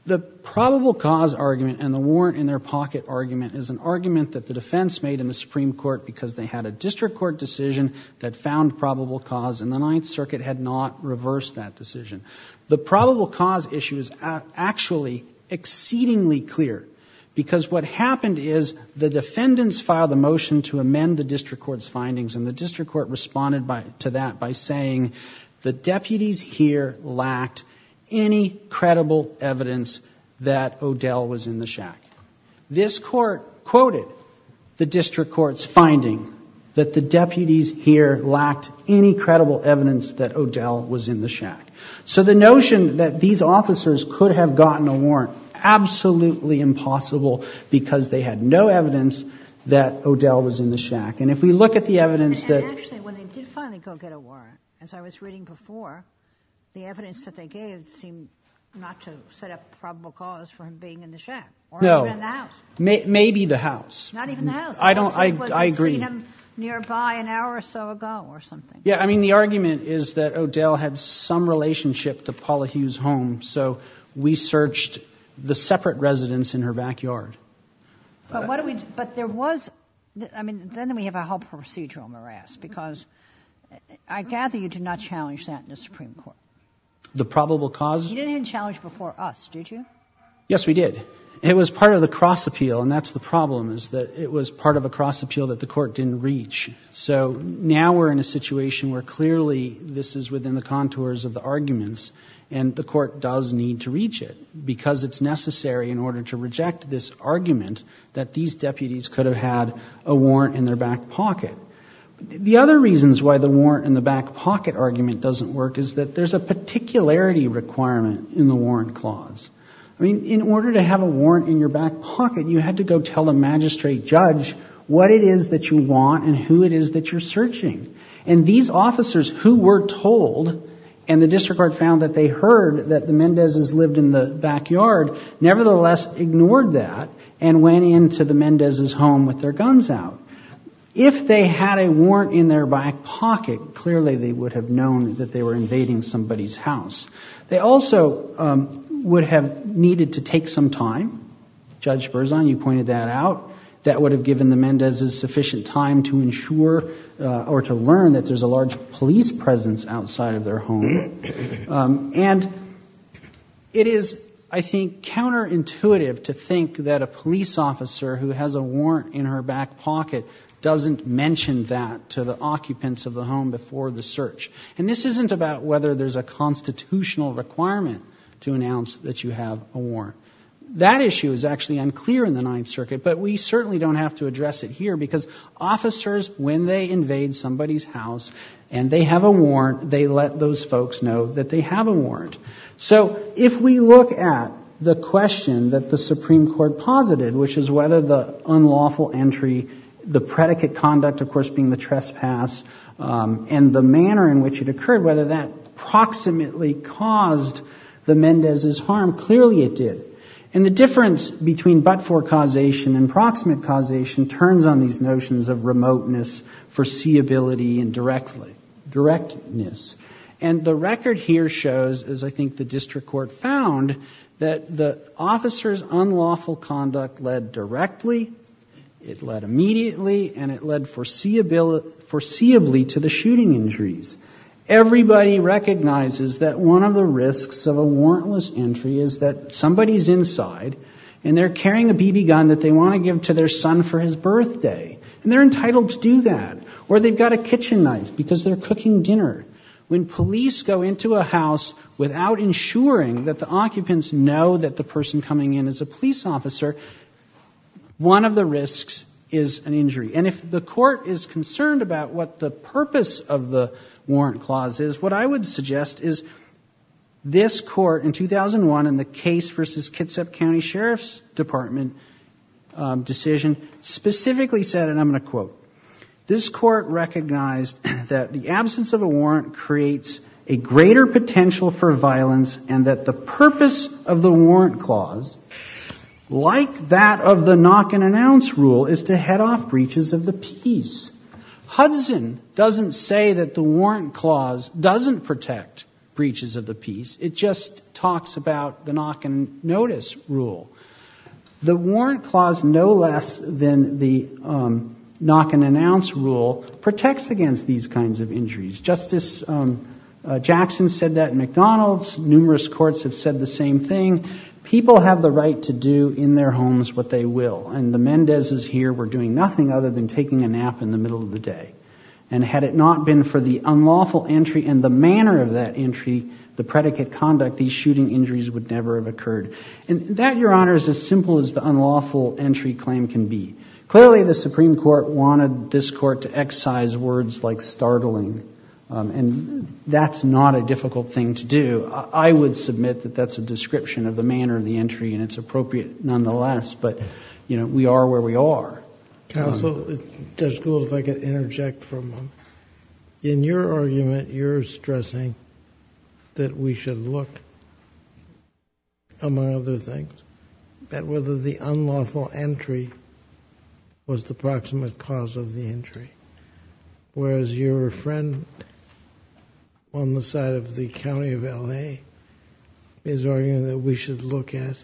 The probable cause argument and the warrant in their pocket argument is an argument that the defense made in the Supreme Court because they had a district court decision that found probable cause, and the Ninth Circuit had not reversed that decision. The probable cause issue is actually exceedingly clear, because what happened is the defendants filed a motion to amend the district court's findings, and the district court responded to that by saying, the deputies here lacked any credible evidence that O'Dell was in the shack. This court quoted the district court's finding that the deputies here lacked any credible evidence that O'Dell was in the shack. So the notion that these officers could have gotten a warrant, absolutely impossible, because they had no evidence that O'Dell was in the shack. And if we look at the evidence that... Actually, when they did finally go get a warrant, as I was reading before, the evidence that they gave seemed not to set up probable cause for him being in the shack. No. Or in the house. Maybe the house. Not even the house. I agree. Nearby an hour or so ago or something. Yeah, I mean, the argument is that O'Dell had some relationship to Paula Hughes' home, so we searched the separate residence in her backyard. But there was... I mean, then we have a whole procedural morass, because I gather you did not challenge that in the Supreme Court. The probable cause? You didn't challenge it before us, did you? Yes, we did. It was part of the cross-appeal, and that's the problem, is that it was part of a cross-appeal that the court didn't reach. So now we're in a situation where clearly this is within the contours of the arguments, and the court does need to reach it, because it's necessary in order to reject this argument that these deputies could have had a warrant in their back pocket. The other reasons why the warrant in the back pocket argument doesn't work is that there's a particularity requirement in the warrant clause. I mean, in order to have a warrant in your back pocket, you had to go tell the magistrate judge what it is that you want and who it is that you're searching. And these officers who were told, and the district court found that they heard that the Mendezes lived in the backyard, nevertheless ignored that and went into the Mendezes' home with their guns out. If they had a warrant in their back pocket, clearly they would have known that they were invading somebody's house. They also would have needed to take some time. Judge Berzon, you pointed that out. That would have given the Mendezes sufficient time to ensure or to learn that there's a large police presence outside of their home. And it is, I think, counterintuitive to think that a police officer who has a warrant in her back pocket doesn't mention that to the occupants of the home before the search. And this isn't about whether there's a constitutional requirement to announce that you have a warrant. That issue is actually unclear in the Ninth Circuit, but we certainly don't have to address it here because officers, when they invade somebody's house and they have a warrant, they let those folks know that they have a warrant. So if we look at the question that the Supreme Court posited, which is whether the unlawful entry, the predicate conduct, of course, being the trespass, whether that approximately caused the Mendezes' harm, clearly it did. And the difference between but-for causation and proximate causation turns on these notions of remoteness, foreseeability, and directness. And the record here shows, as I think the district court found, that the officer's unlawful conduct led directly, it led immediately, and it led foreseeably to the shooting injuries. Everybody recognizes that one of the risks of a warrantless entry is that somebody's inside, and they're carrying a BB gun that they want to give to their son for his birthday, and they're entitled to do that. Or they've got a kitchen knife because they're cooking dinner. When police go into a house without ensuring that the occupants know that the person coming in is a police officer, one of the risks is an injury. And if the court is concerned about what the purpose of the warrant clause is, what I would suggest is this court in 2001 in the case versus Kitsap County Sheriff's Department decision specifically said, and I'm going to quote, this court recognized that the absence of a warrant creates a greater potential for violence and that the purpose of the warrant clause, like that of the knock-and-announce rule, is to head off breaches of the peace. Hudson doesn't say that the warrant clause doesn't protect breaches of the peace. It just talks about the knock-and-notice rule. The warrant clause, no less than the knock-and-announce rule, protects against these kinds of injuries. Justice Jackson said that at McDonald's. Numerous courts have said the same thing. People have the right to do in their homes what they will, and the Mendezes here were doing nothing other than taking a nap in the middle of the day. And had it not been for the unlawful entry and the manner of that entry, the predicate conduct, these shooting injuries would never have occurred. And that, Your Honor, is as simple as the unlawful entry claim can be. Clearly, the Supreme Court wanted this court to excise words like startling, and that's not a difficult thing to do. I would submit that that's a description of the manner of the entry, and it's appropriate nonetheless, but, you know, we are where we are. Counsel, it's just cool if I could interject for a moment. In your argument, you're stressing that we should look, among other things, at whether the unlawful entry was the proximate cause of the injury, whereas your friend on the side of the county of L.A. is arguing that we should look at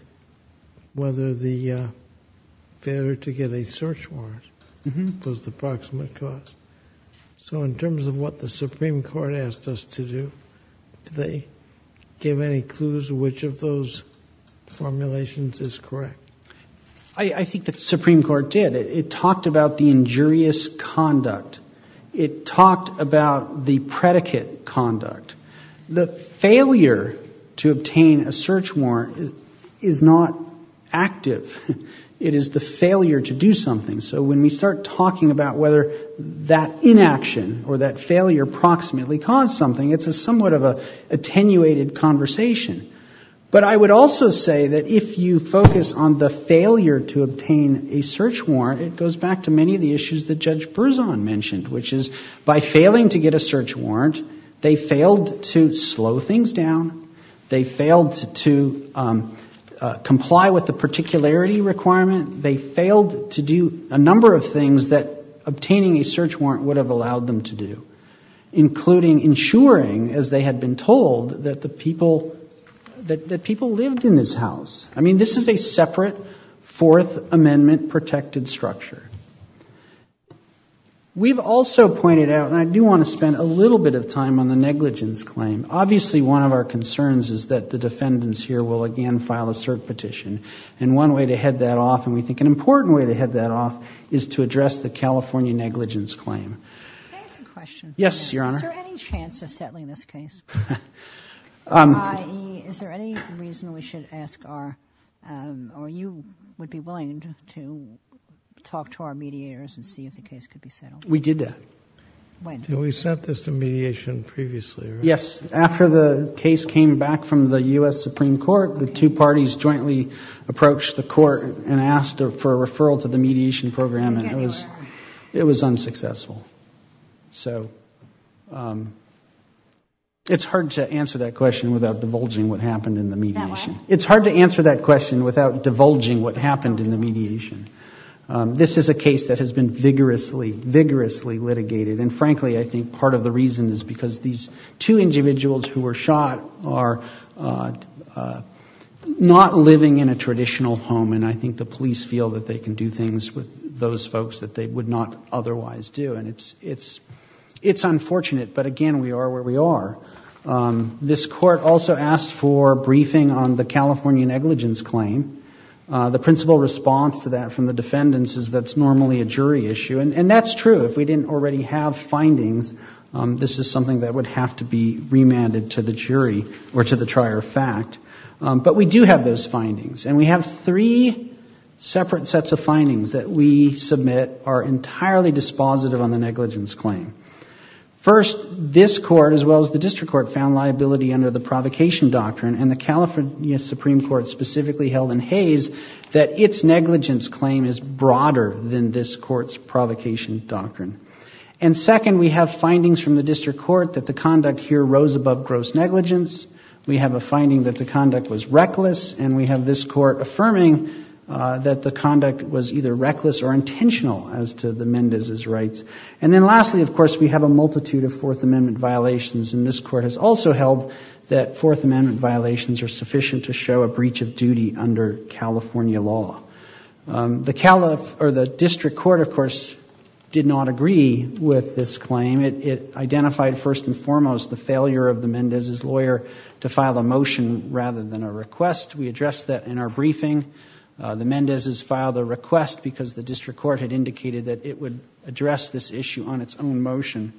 whether the failure to get a search warrant was the proximate cause. So in terms of what the Supreme Court asked us to do, did they give any clues which of those formulations is correct? I think the Supreme Court did. It talked about the injurious conduct. It talked about the predicate conduct. The failure to obtain a search warrant is not active. It is the failure to do something. So when we start talking about whether that inaction or that failure proximately caused something, it's somewhat of an attenuated conversation. But I would also say that if you focus on the failure to obtain a search warrant, it goes back to many of the issues that Judge Berzon mentioned, which is by failing to get a search warrant, they failed to slow things down, they failed to comply with the particularity requirement, they failed to do a number of things that obtaining a search warrant would have allowed them to do, including ensuring, as they had been told, that the people lived in this house. I mean, this is a separate Fourth Amendment protected structure. We've also pointed out, and I do want to spend a little bit of time on the negligence claim. Obviously, one of our concerns is that the defendants here will again file a cert petition. And one way to head that off, and we think an important way to head that off, is to address the California negligence claim. Can I ask a question? Yes, Your Honor. Is there any chance of settling this case? I.e., is there any reason we should ask our... or you would be willing to talk to our mediators and see if the case could be settled? We did that. When? We set this to mediation previously, right? Yes. After the case came back from the U.S. Supreme Court, the two parties jointly approached the court and asked for a referral to the mediation program, and it was unsuccessful. So, it's hard to answer that question without divulging what happened in the mediation. It's hard to answer that question without divulging what happened in the mediation. This is a case that has been vigorously litigated, and frankly, I think part of the reason is because these two individuals who were shot are not living in a traditional home, and I think the police feel that they can do things with those folks that they would not otherwise do, and it's unfortunate, but again, we are where we are. This court also asked for a briefing on the California negligence claim. The principal response to that from the defendants is that it's normally a jury issue, and that's true. If we didn't already have findings, this is something that would have to be remanded to the jury or to the trier of fact, but we do have those findings, and we have three separate sets of findings that we submit are entirely dispositive on the negligence claim. First, this court, as well as the district court, found liability under the provocation doctrine, and the California Supreme Court specifically held in haze that its negligence claim is broader than this court's provocation doctrine, and second, we have findings from the district court that the conduct here rose above gross negligence. We have a finding that the conduct was reckless, and we have this court affirming that the conduct was either reckless or intentional as to the Mendez's rights, and then lastly, of course, we have a multitude of Fourth Amendment violations, and this court has also held that Fourth Amendment violations are sufficient to show a breach of duty under California law. The district court, of course, did not agree with this claim. It identified, first and foremost, the failure of the Mendez's lawyer to file a motion rather than a request. We addressed that in our briefing. The Mendez's filed a request because the district court had indicated that it would address this issue on its own motion.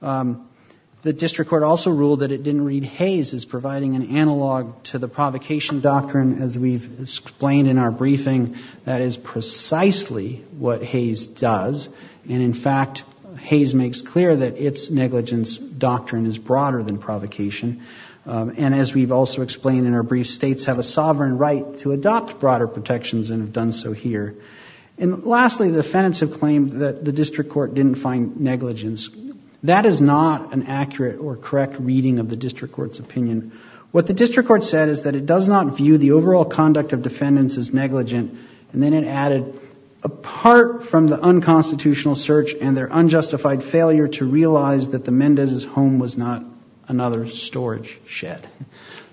The district court also ruled that it didn't read haze as providing an analog to the provocation doctrine, as we've explained in our briefing. That is precisely what haze does, and in fact, haze makes clear that its negligence doctrine is broader than provocation, and as we've also explained in our brief, states have a sovereign right to adopt broader protections and have done so here. And lastly, the defendants have claimed that the district court didn't find negligence. That is not an accurate or correct reading of the district court's opinion. What the district court said is that it does not view the overall conduct of defendants as negligent, and then it added, apart from the unconstitutional search and their unjustified failure to realize that the Mendez's home was not another storage shed.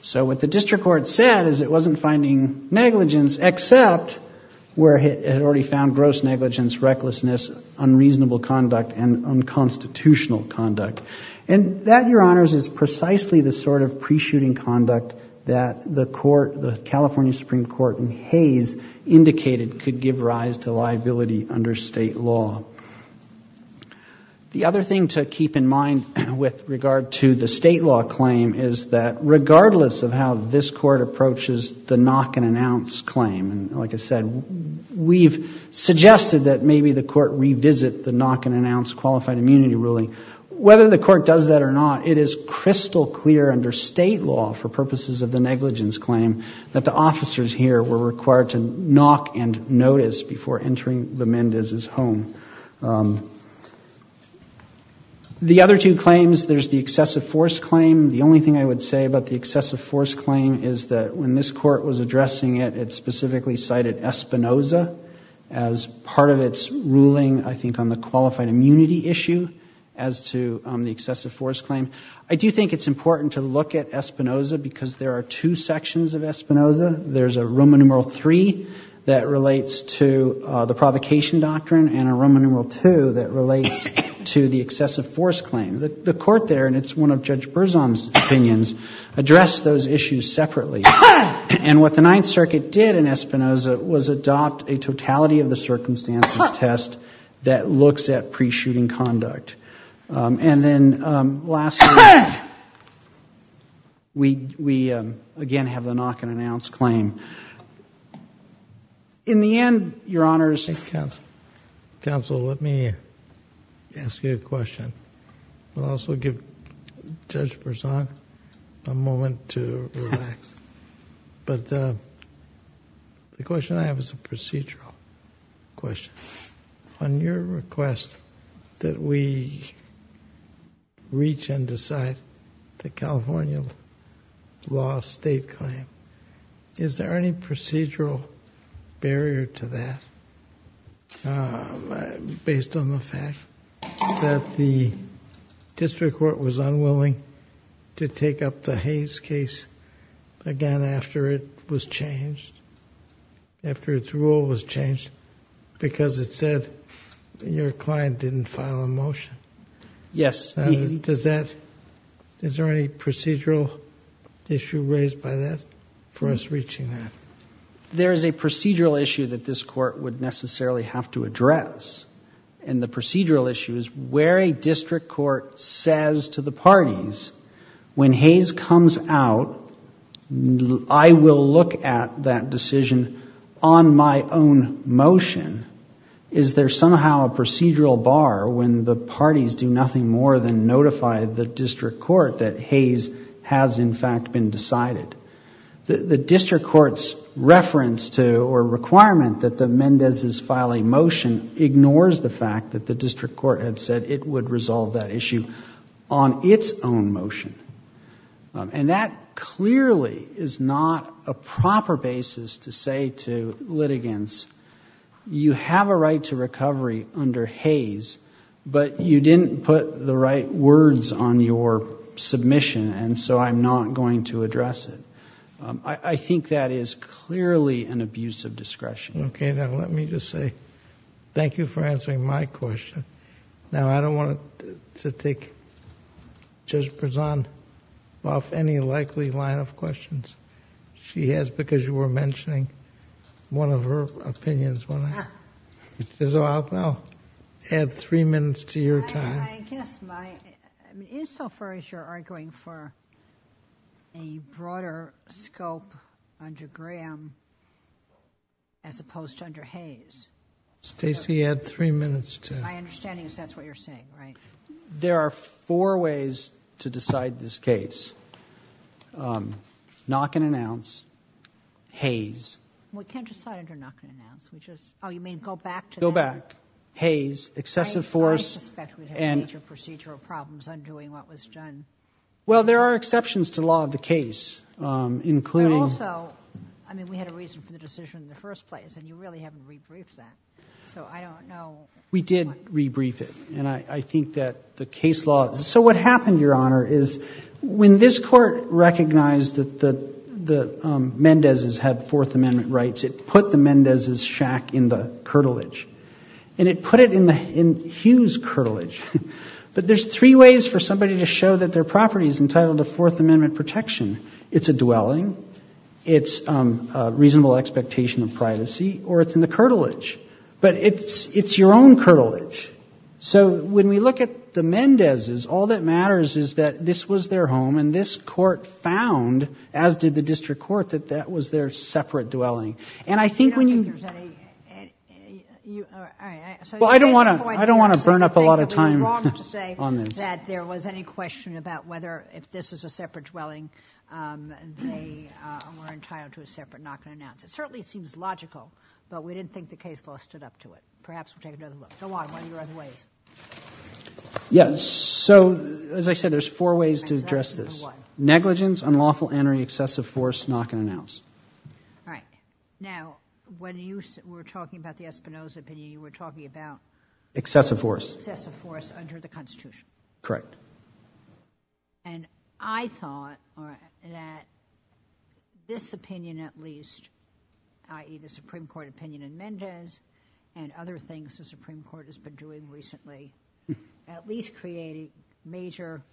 So what the district court said is it wasn't finding negligence except where it had already found gross negligence, recklessness, unreasonable conduct, and unconstitutional conduct. And that, Your Honors, is precisely the sort of pre-shooting conduct that the California Supreme Court in Hays indicated could give rise to liability under state law. The other thing to keep in mind with regard to the state law claim is that regardless of how this court approaches the knock-and-announce claim, like I said, we've suggested that maybe the court revisit the knock-and-announce qualified immunity ruling. Whether the court does that or not, it is crystal clear under state law for purposes of the negligence claim that the officers here were required to knock and notice before entering the Mendez's home. The other two claims, there's the excessive force claim. The only thing I would say about the excessive force claim is that when this court was addressing it, it specifically cited Espinoza as part of its ruling, I think, on the qualified immunity issue as to the excessive force claim. I do think it's important to look at Espinoza because there are two sections of Espinoza. There's a Roman numeral III that relates to the provocation doctrine and a Roman numeral II that relates to the excessive force claim. The court there, and it's one of Judge Berzon's opinions, addressed those issues separately. And what the Ninth Circuit did in Espinoza was adopt a totality-of-the-circumstances test that looks at pre-shooting conduct. And then lastly, we again have the knock-and-announce claim. In the end, Your Honors... Counsel, let me ask you a question. I'll also give Judge Berzon a moment to relax. But the question I have is a procedural question. On your request that we reach and decide the California law state claim, is there any procedural barrier to that based on the fact that the district court was unwilling to take up the Hayes case again after it was changed, after its rule was changed because it said your client didn't file a motion? Yes. Is there any procedural issue raised by that for us reaching that? There is a procedural issue that this court would necessarily have to address. And the procedural issue is where a district court says to the parties, when Hayes comes out, I will look at that decision on my own motion. Is there somehow a procedural bar when the parties do nothing more than notify the district court that Hayes has in fact been decided? The district court's reference to or requirement that the Mendez's file a motion ignores the fact that the district court had said it would resolve that issue on its own motion. And that clearly is not a proper basis to say to litigants, you have a right to recovery under Hayes, but you didn't put the right words on your submission and so I'm not going to address it. I think that is clearly an abuse of discretion. Okay, now let me just say thank you for answering my question. Now, I don't want to take Judge Brezan off any likely line of questions. She has, because you were mentioning one of her opinions, I'll add three minutes to your time. I guess my, insofar as you're arguing for a broader scope under Graham as opposed to under Hayes. Stacey, add three minutes. My understanding is that's what you're saying, right? There are four ways to decide this case. Knock and announce. Hayes. We can't decide under knock and announce. Oh, you mean go back to that? Go back. Hayes. Excessive force. I suspect we have major procedural problems undoing what was done. Well, there are exceptions to law of the case, including... But also, I mean, we had a reason for the decision in the first place and you really haven't re-briefed that. So I don't know... We did re-brief it and I think that the case law... So what happened, Your Honor, is when this court recognized that the Mendez's had Fourth Amendment rights, it put the Mendez's shack in the curtilage. And it put it in Hughes' curtilage. But there's three ways for somebody to show that their property is entitled to Fourth Amendment protection. It's a dwelling, it's a reasonable expectation of privacy, or it's in the curtilage. But it's your own curtilage. So when we look at the Mendez's, all that matters is that this was their home and this court found, as did the district court, that that was their separate dwelling. And I think when you... Well, I don't want to burn up a lot of time on this. ...that there was any question about whether, if this was a separate dwelling, they were entitled to a separate knock-and-announce. It certainly seems logical, but we didn't think the case law stood up to it. Perhaps we'll take another look. Go on. Are there other ways? Yes. So, as I said, there's four ways to address this. Negligence, unlawful entering, excessive force, knock-and-announce. All right. Now, when you were talking about the Espinoza opinion, you were talking about... Excessive force. Excessive force under the Constitution. Correct. And I thought that this opinion, at least, i.e., the Supreme Court opinion in Mendez and other things the Supreme Court has been doing recently, at least created major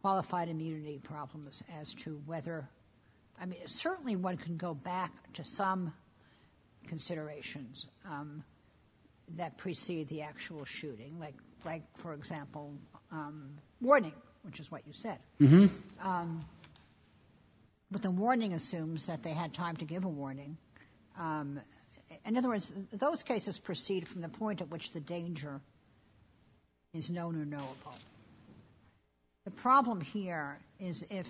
qualified immunity problems as to whether... I mean, certainly one can go back to some considerations that precede the actual shooting, like, for example, warning, which is what you said. Mm-hmm. But the warning assumes that they had time to give a warning. In other words, those cases proceed from the point at which the danger is known or knowable. The problem here is if,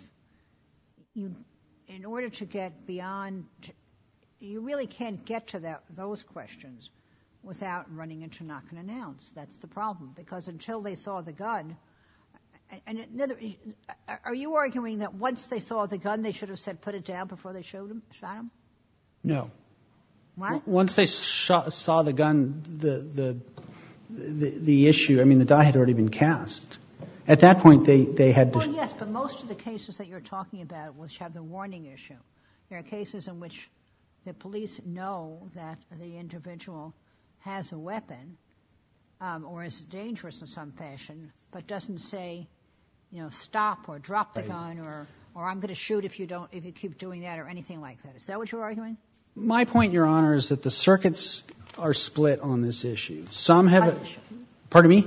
in order to get beyond... You really can't get to those questions without running into knock-and-announce. That's the problem, because until they saw the gun... Are you arguing that once they saw the gun, they should have said, put it down before they shot him? No. Why? Once they saw the gun, the issue... I mean, the guy had already been cast. At that point, they had... Yes, but most of the cases that you're talking about which have the warning issue. There are cases in which the police know that the individual has a weapon or is dangerous in some fashion, but doesn't say, you know, stop or drop the gun or I'm going to shoot if you keep doing that or anything like that. Is that what you're arguing? My point, Your Honor, is that the circuits are split on this issue. Some have... Pardon me?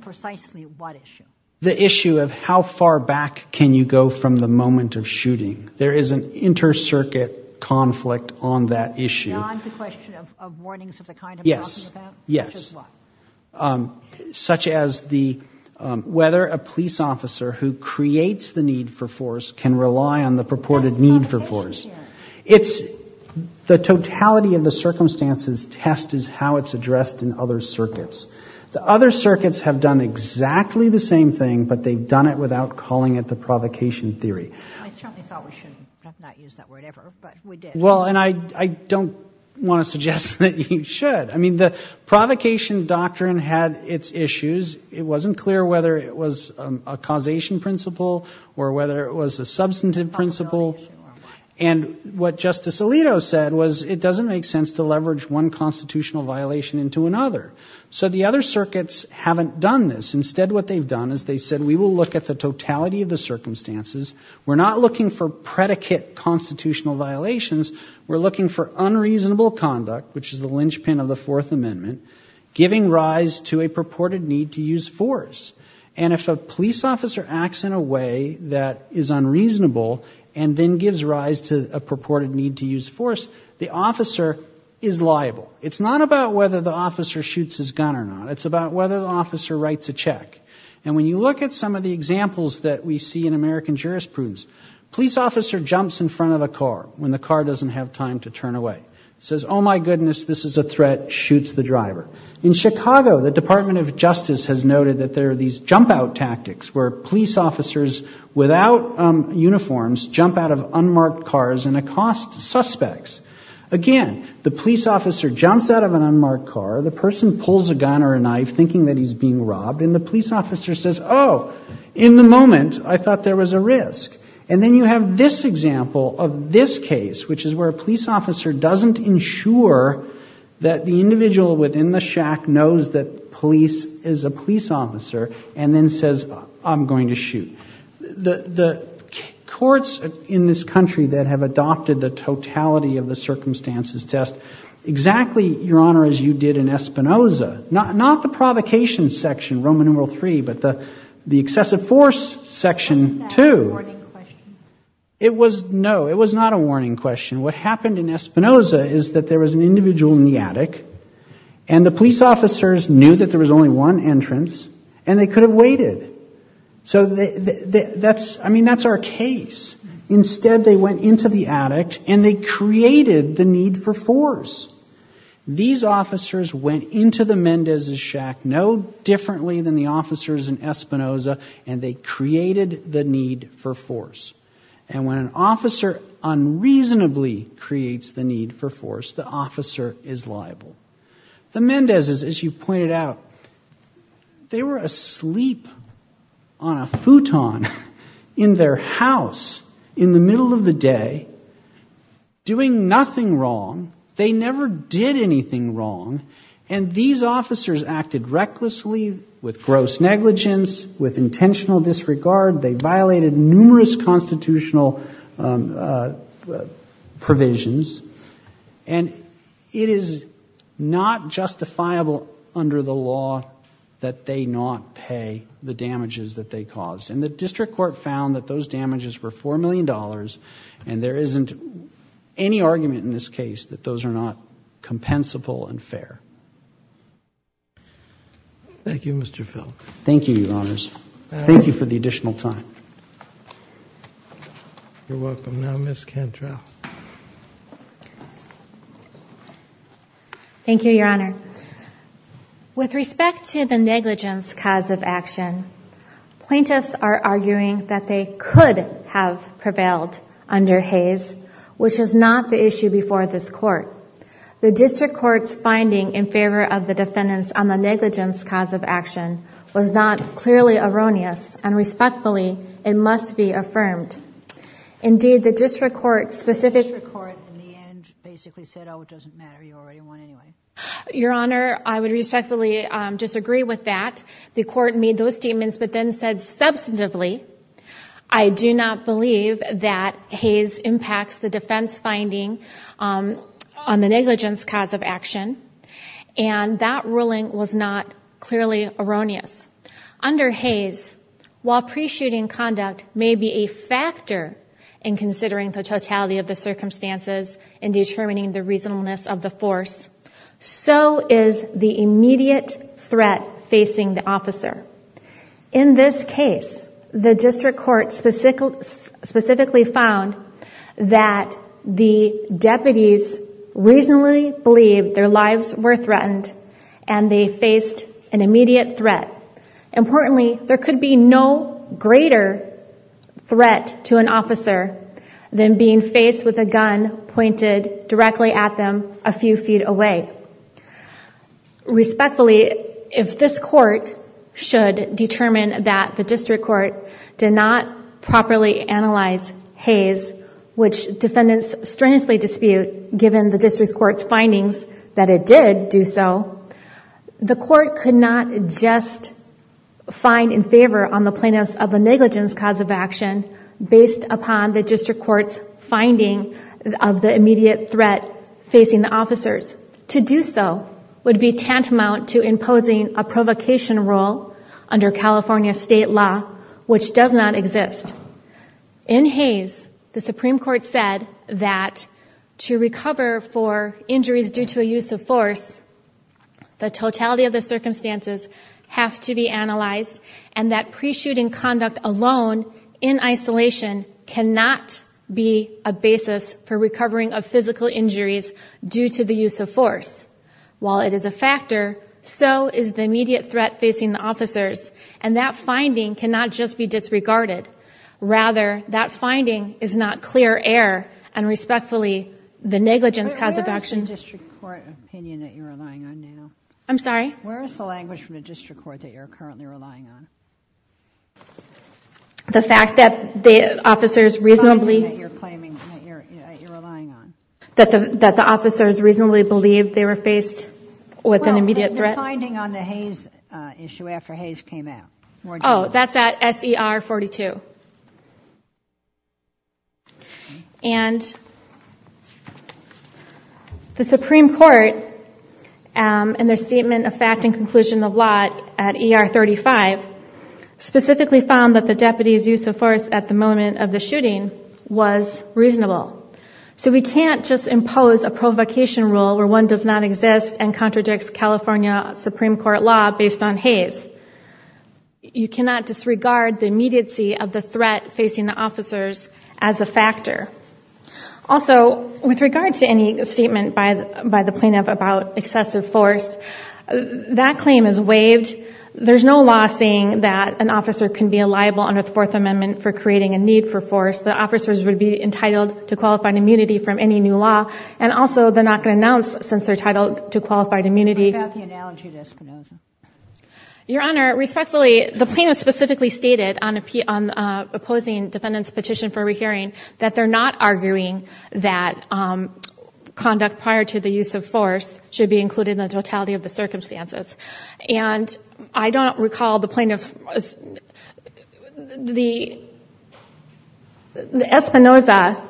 Precisely what issue? The issue of how far back can you go from the moment of shooting. There is an inter-circuit conflict on that issue. Now on to the question of warnings of the kind I'm talking about. Yes, yes. Such as what? Such as whether a police officer who creates the need for force can rely on the purported need for force. It's... The totality of the circumstances test is how it's addressed in other circuits. The other circuits have done exactly the same thing, but they've done it without calling it the provocation theory. I certainly thought we shouldn't have not used that word ever, but we did. Well, and I don't want to suggest that you should. I mean, the provocation doctrine had its issues. It wasn't clear whether it was a causation principle or whether it was a substantive principle. And what Justice Alito said was it doesn't make sense to leverage one constitutional violation into another. So the other circuits haven't done this. Instead, what they've done is they've said we will look at the totality of the circumstances we're not looking for predicate constitutional violations, we're looking for unreasonable conduct, which is the linchpin of the Fourth Amendment, giving rise to a purported need to use force. And if a police officer acts in a way that is unreasonable and then gives rise to a purported need to use force, the officer is liable. It's not about whether the officer shoots his gun or not. And when you look at some of the examples that we see in American jurisprudence, a police officer jumps in front of a car when the car doesn't have time to turn away, says, oh, my goodness, this is a threat, shoots the driver. In Chicago, the Department of Justice has noted that there are these jump-out tactics where police officers without uniforms jump out of unmarked cars and accost suspects. Again, the police officer jumps out of an unmarked car, the person pulls a gun or a knife thinking that he's being robbed, and the police officer says, oh, in the moment, I thought there was a risk. And then you have this example of this case, which is where a police officer doesn't ensure that the individual within the shack knows that police is a police officer and then says, I'm going to shoot. The courts in this country that have adopted the totality of the circumstances test exactly, Your Honor, as you did in Espinoza, not the provocation section, Roman numeral three, but the excessive force section two. It was, no, it was not a warning question. What happened in Espinoza is that there was an individual in the attic and the police officers knew that there was only one entrance and they could have waited. So that's, I mean, that's our case. Instead, they went into the attic and they created the need for force. These officers went into the Mendez's shack no differently than the officers in Espinoza and they created the need for force. And when an officer unreasonably creates the need for force, the officer is liable. The Mendez's, as you pointed out, they were asleep on a futon in their house in the middle of the day, doing nothing wrong. They never did anything wrong. And these officers acted recklessly with gross negligence, with intentional disregard. They violated numerous constitutional provisions. And it is not justifiable under the law that they not pay the damages that they caused. And the district court found that those damages were $4 million and there isn't any argument in this case that those are not compensable and fair. Thank you, Mr. Phil. Thank you, Your Honors. Thank you for the additional time. You're welcome. Now, Ms. Cantrell. Thank you, Your Honor. With respect to the negligence cause of action, plaintiffs are arguing that they could have prevailed under Hays, which is not the issue before this court. The district court's finding in favor of the defendants on the negligence cause of action was not clearly erroneous, and respectfully, it must be affirmed. Indeed, the district court's specific... The district court in the end basically said, oh, it doesn't matter. You already won anyway. Your Honor, I would respectfully disagree with that. The court made those statements, but then said substantively, I do not believe that Hays impacts the defense finding on the negligence cause of action, and that ruling was not clearly erroneous. Under Hays, while pre-shooting conduct may be a factor in considering the totality of the circumstances and determining the reasonableness of the force, so is the immediate threat facing the officer. In this case, the district court specifically found that the deputies reasonably believed their lives were threatened and they faced an immediate threat. Importantly, there could be no greater threat to an officer than being faced with a gun pointed directly at them a few feet away. Respectfully, if this court should determine that the district court did not properly analyze Hays, which defendants strenuously dispute given the district court's findings that it did do so, the court could not just find in favor on the plaintiffs of a negligence cause of action based upon the district court's finding of the immediate threat facing the officers. To do so would be tantamount to imposing a provocation rule under California state law, which does not exist. In Hays, the Supreme Court said that to recover for injuries due to a use of force, the totality of the circumstances has to be analyzed and that pre-shooting conduct alone in isolation cannot be a basis for recovering of physical injuries due to the use of force. While it is a factor, so is the immediate threat facing the officers and that finding cannot just be disregarded. Rather, that finding is not clear error and respectfully, the negligence cause of action... Where is the district court opinion that you're relying on now? I'm sorry? Where is the language from the district court that you're currently relying on? The fact that the officers reasonably... The language that you're claiming that you're relying on. That the officers reasonably believed they were faced with an immediate threat. Well, there's a finding on the Hays issue after Hays came out. Oh, that's at SER 42. And the Supreme Court, in their statement of fact and conclusion of lot at ER 35, specifically found that the deputies' use of force at the moment of the shooting was reasonable. So we can't just impose a provocation rule where one does not exist and contradicts California Supreme Court law based on Hays. You cannot disregard the immediacy of the threat facing the officers as a factor. Also, with regard to any statement by the plaintiff about excessive force, that claim is waived. There's no law saying that an officer can be liable under the Fourth Amendment for creating a need for force. The officers would be entitled to qualified immunity from any new law. And also, they're not going to announce since they're titled to qualified immunity... Your Honor, respectfully, the plaintiff specifically stated on opposing defendant's petition for rehearing that they're not arguing that conduct prior to the use of force should be included in the totality of the circumstances. And I don't recall the plaintiff... The... The Espinoza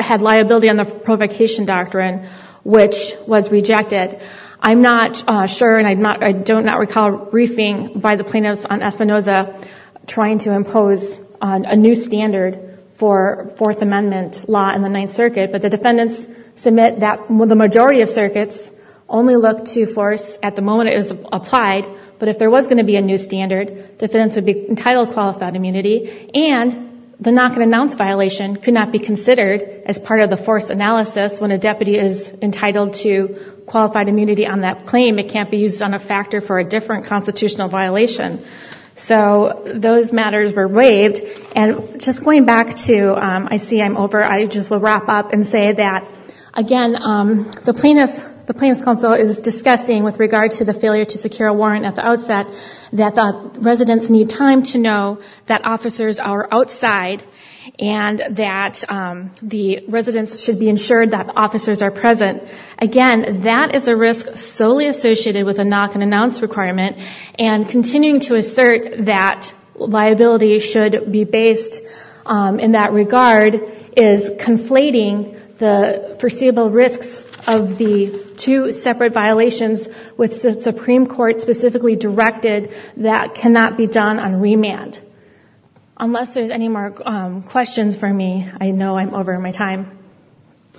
had liability on the provocation doctrine, which was rejected. I'm not sure, and I don't not recall, briefing by the plaintiffs on Espinoza trying to impose a new standard for Fourth Amendment law in the Ninth Circuit, but the defendants submit that the majority of circuits only look to force at the moment it was applied, but if there was going to be a new standard, defendants would be entitled to qualified immunity, and the knock-and-announce violation could not be considered as part of the force analysis when a deputy is entitled to qualified immunity on that claim. It can't be used on a factor for a different constitutional violation. So those matters were waived. And just going back to... I see I'm over. I just will wrap up and say that, again, the plaintiff's counsel is discussing with regard to the failure to secure a warrant at the outset that the residents need time to know that officers are outside and that the residents should be ensured that the officers are present. Again, that is a risk solely associated with a knock-and-announce requirement, and continuing to assert that liability should be based in that regard is conflating the foreseeable risks of the two separate violations with the Supreme Court specifically directed that cannot be done on remand. Unless there's any more questions for me, I know I'm over my time.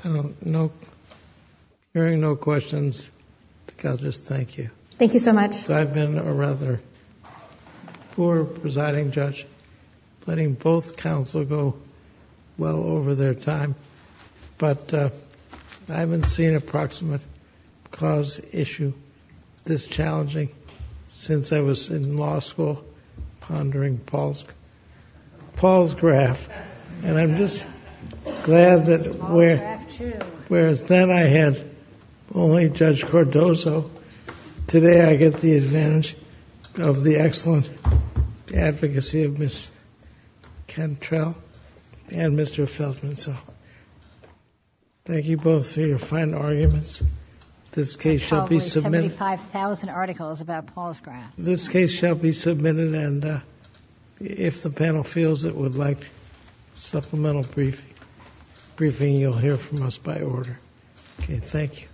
No. Hearing no questions, I'll just thank you. Thank you so much. I've been a rather poor presiding judge, letting both counsel go well over their time. But I haven't seen an approximate cause issue this challenging since I was in law school pondering Paul's graph. And I'm just glad that whereas then I had only Judge Cordozo, today I get the advantage of the excellent advocacy of Ms. Cantrell and Mr. Feldman. So thank you both for your fine arguments. This case shall be submitted. 75,000 articles about Paul's graph. This case shall be submitted, and if the panel feels it would like supplemental briefing, you'll hear from us by order. Okay, thank you.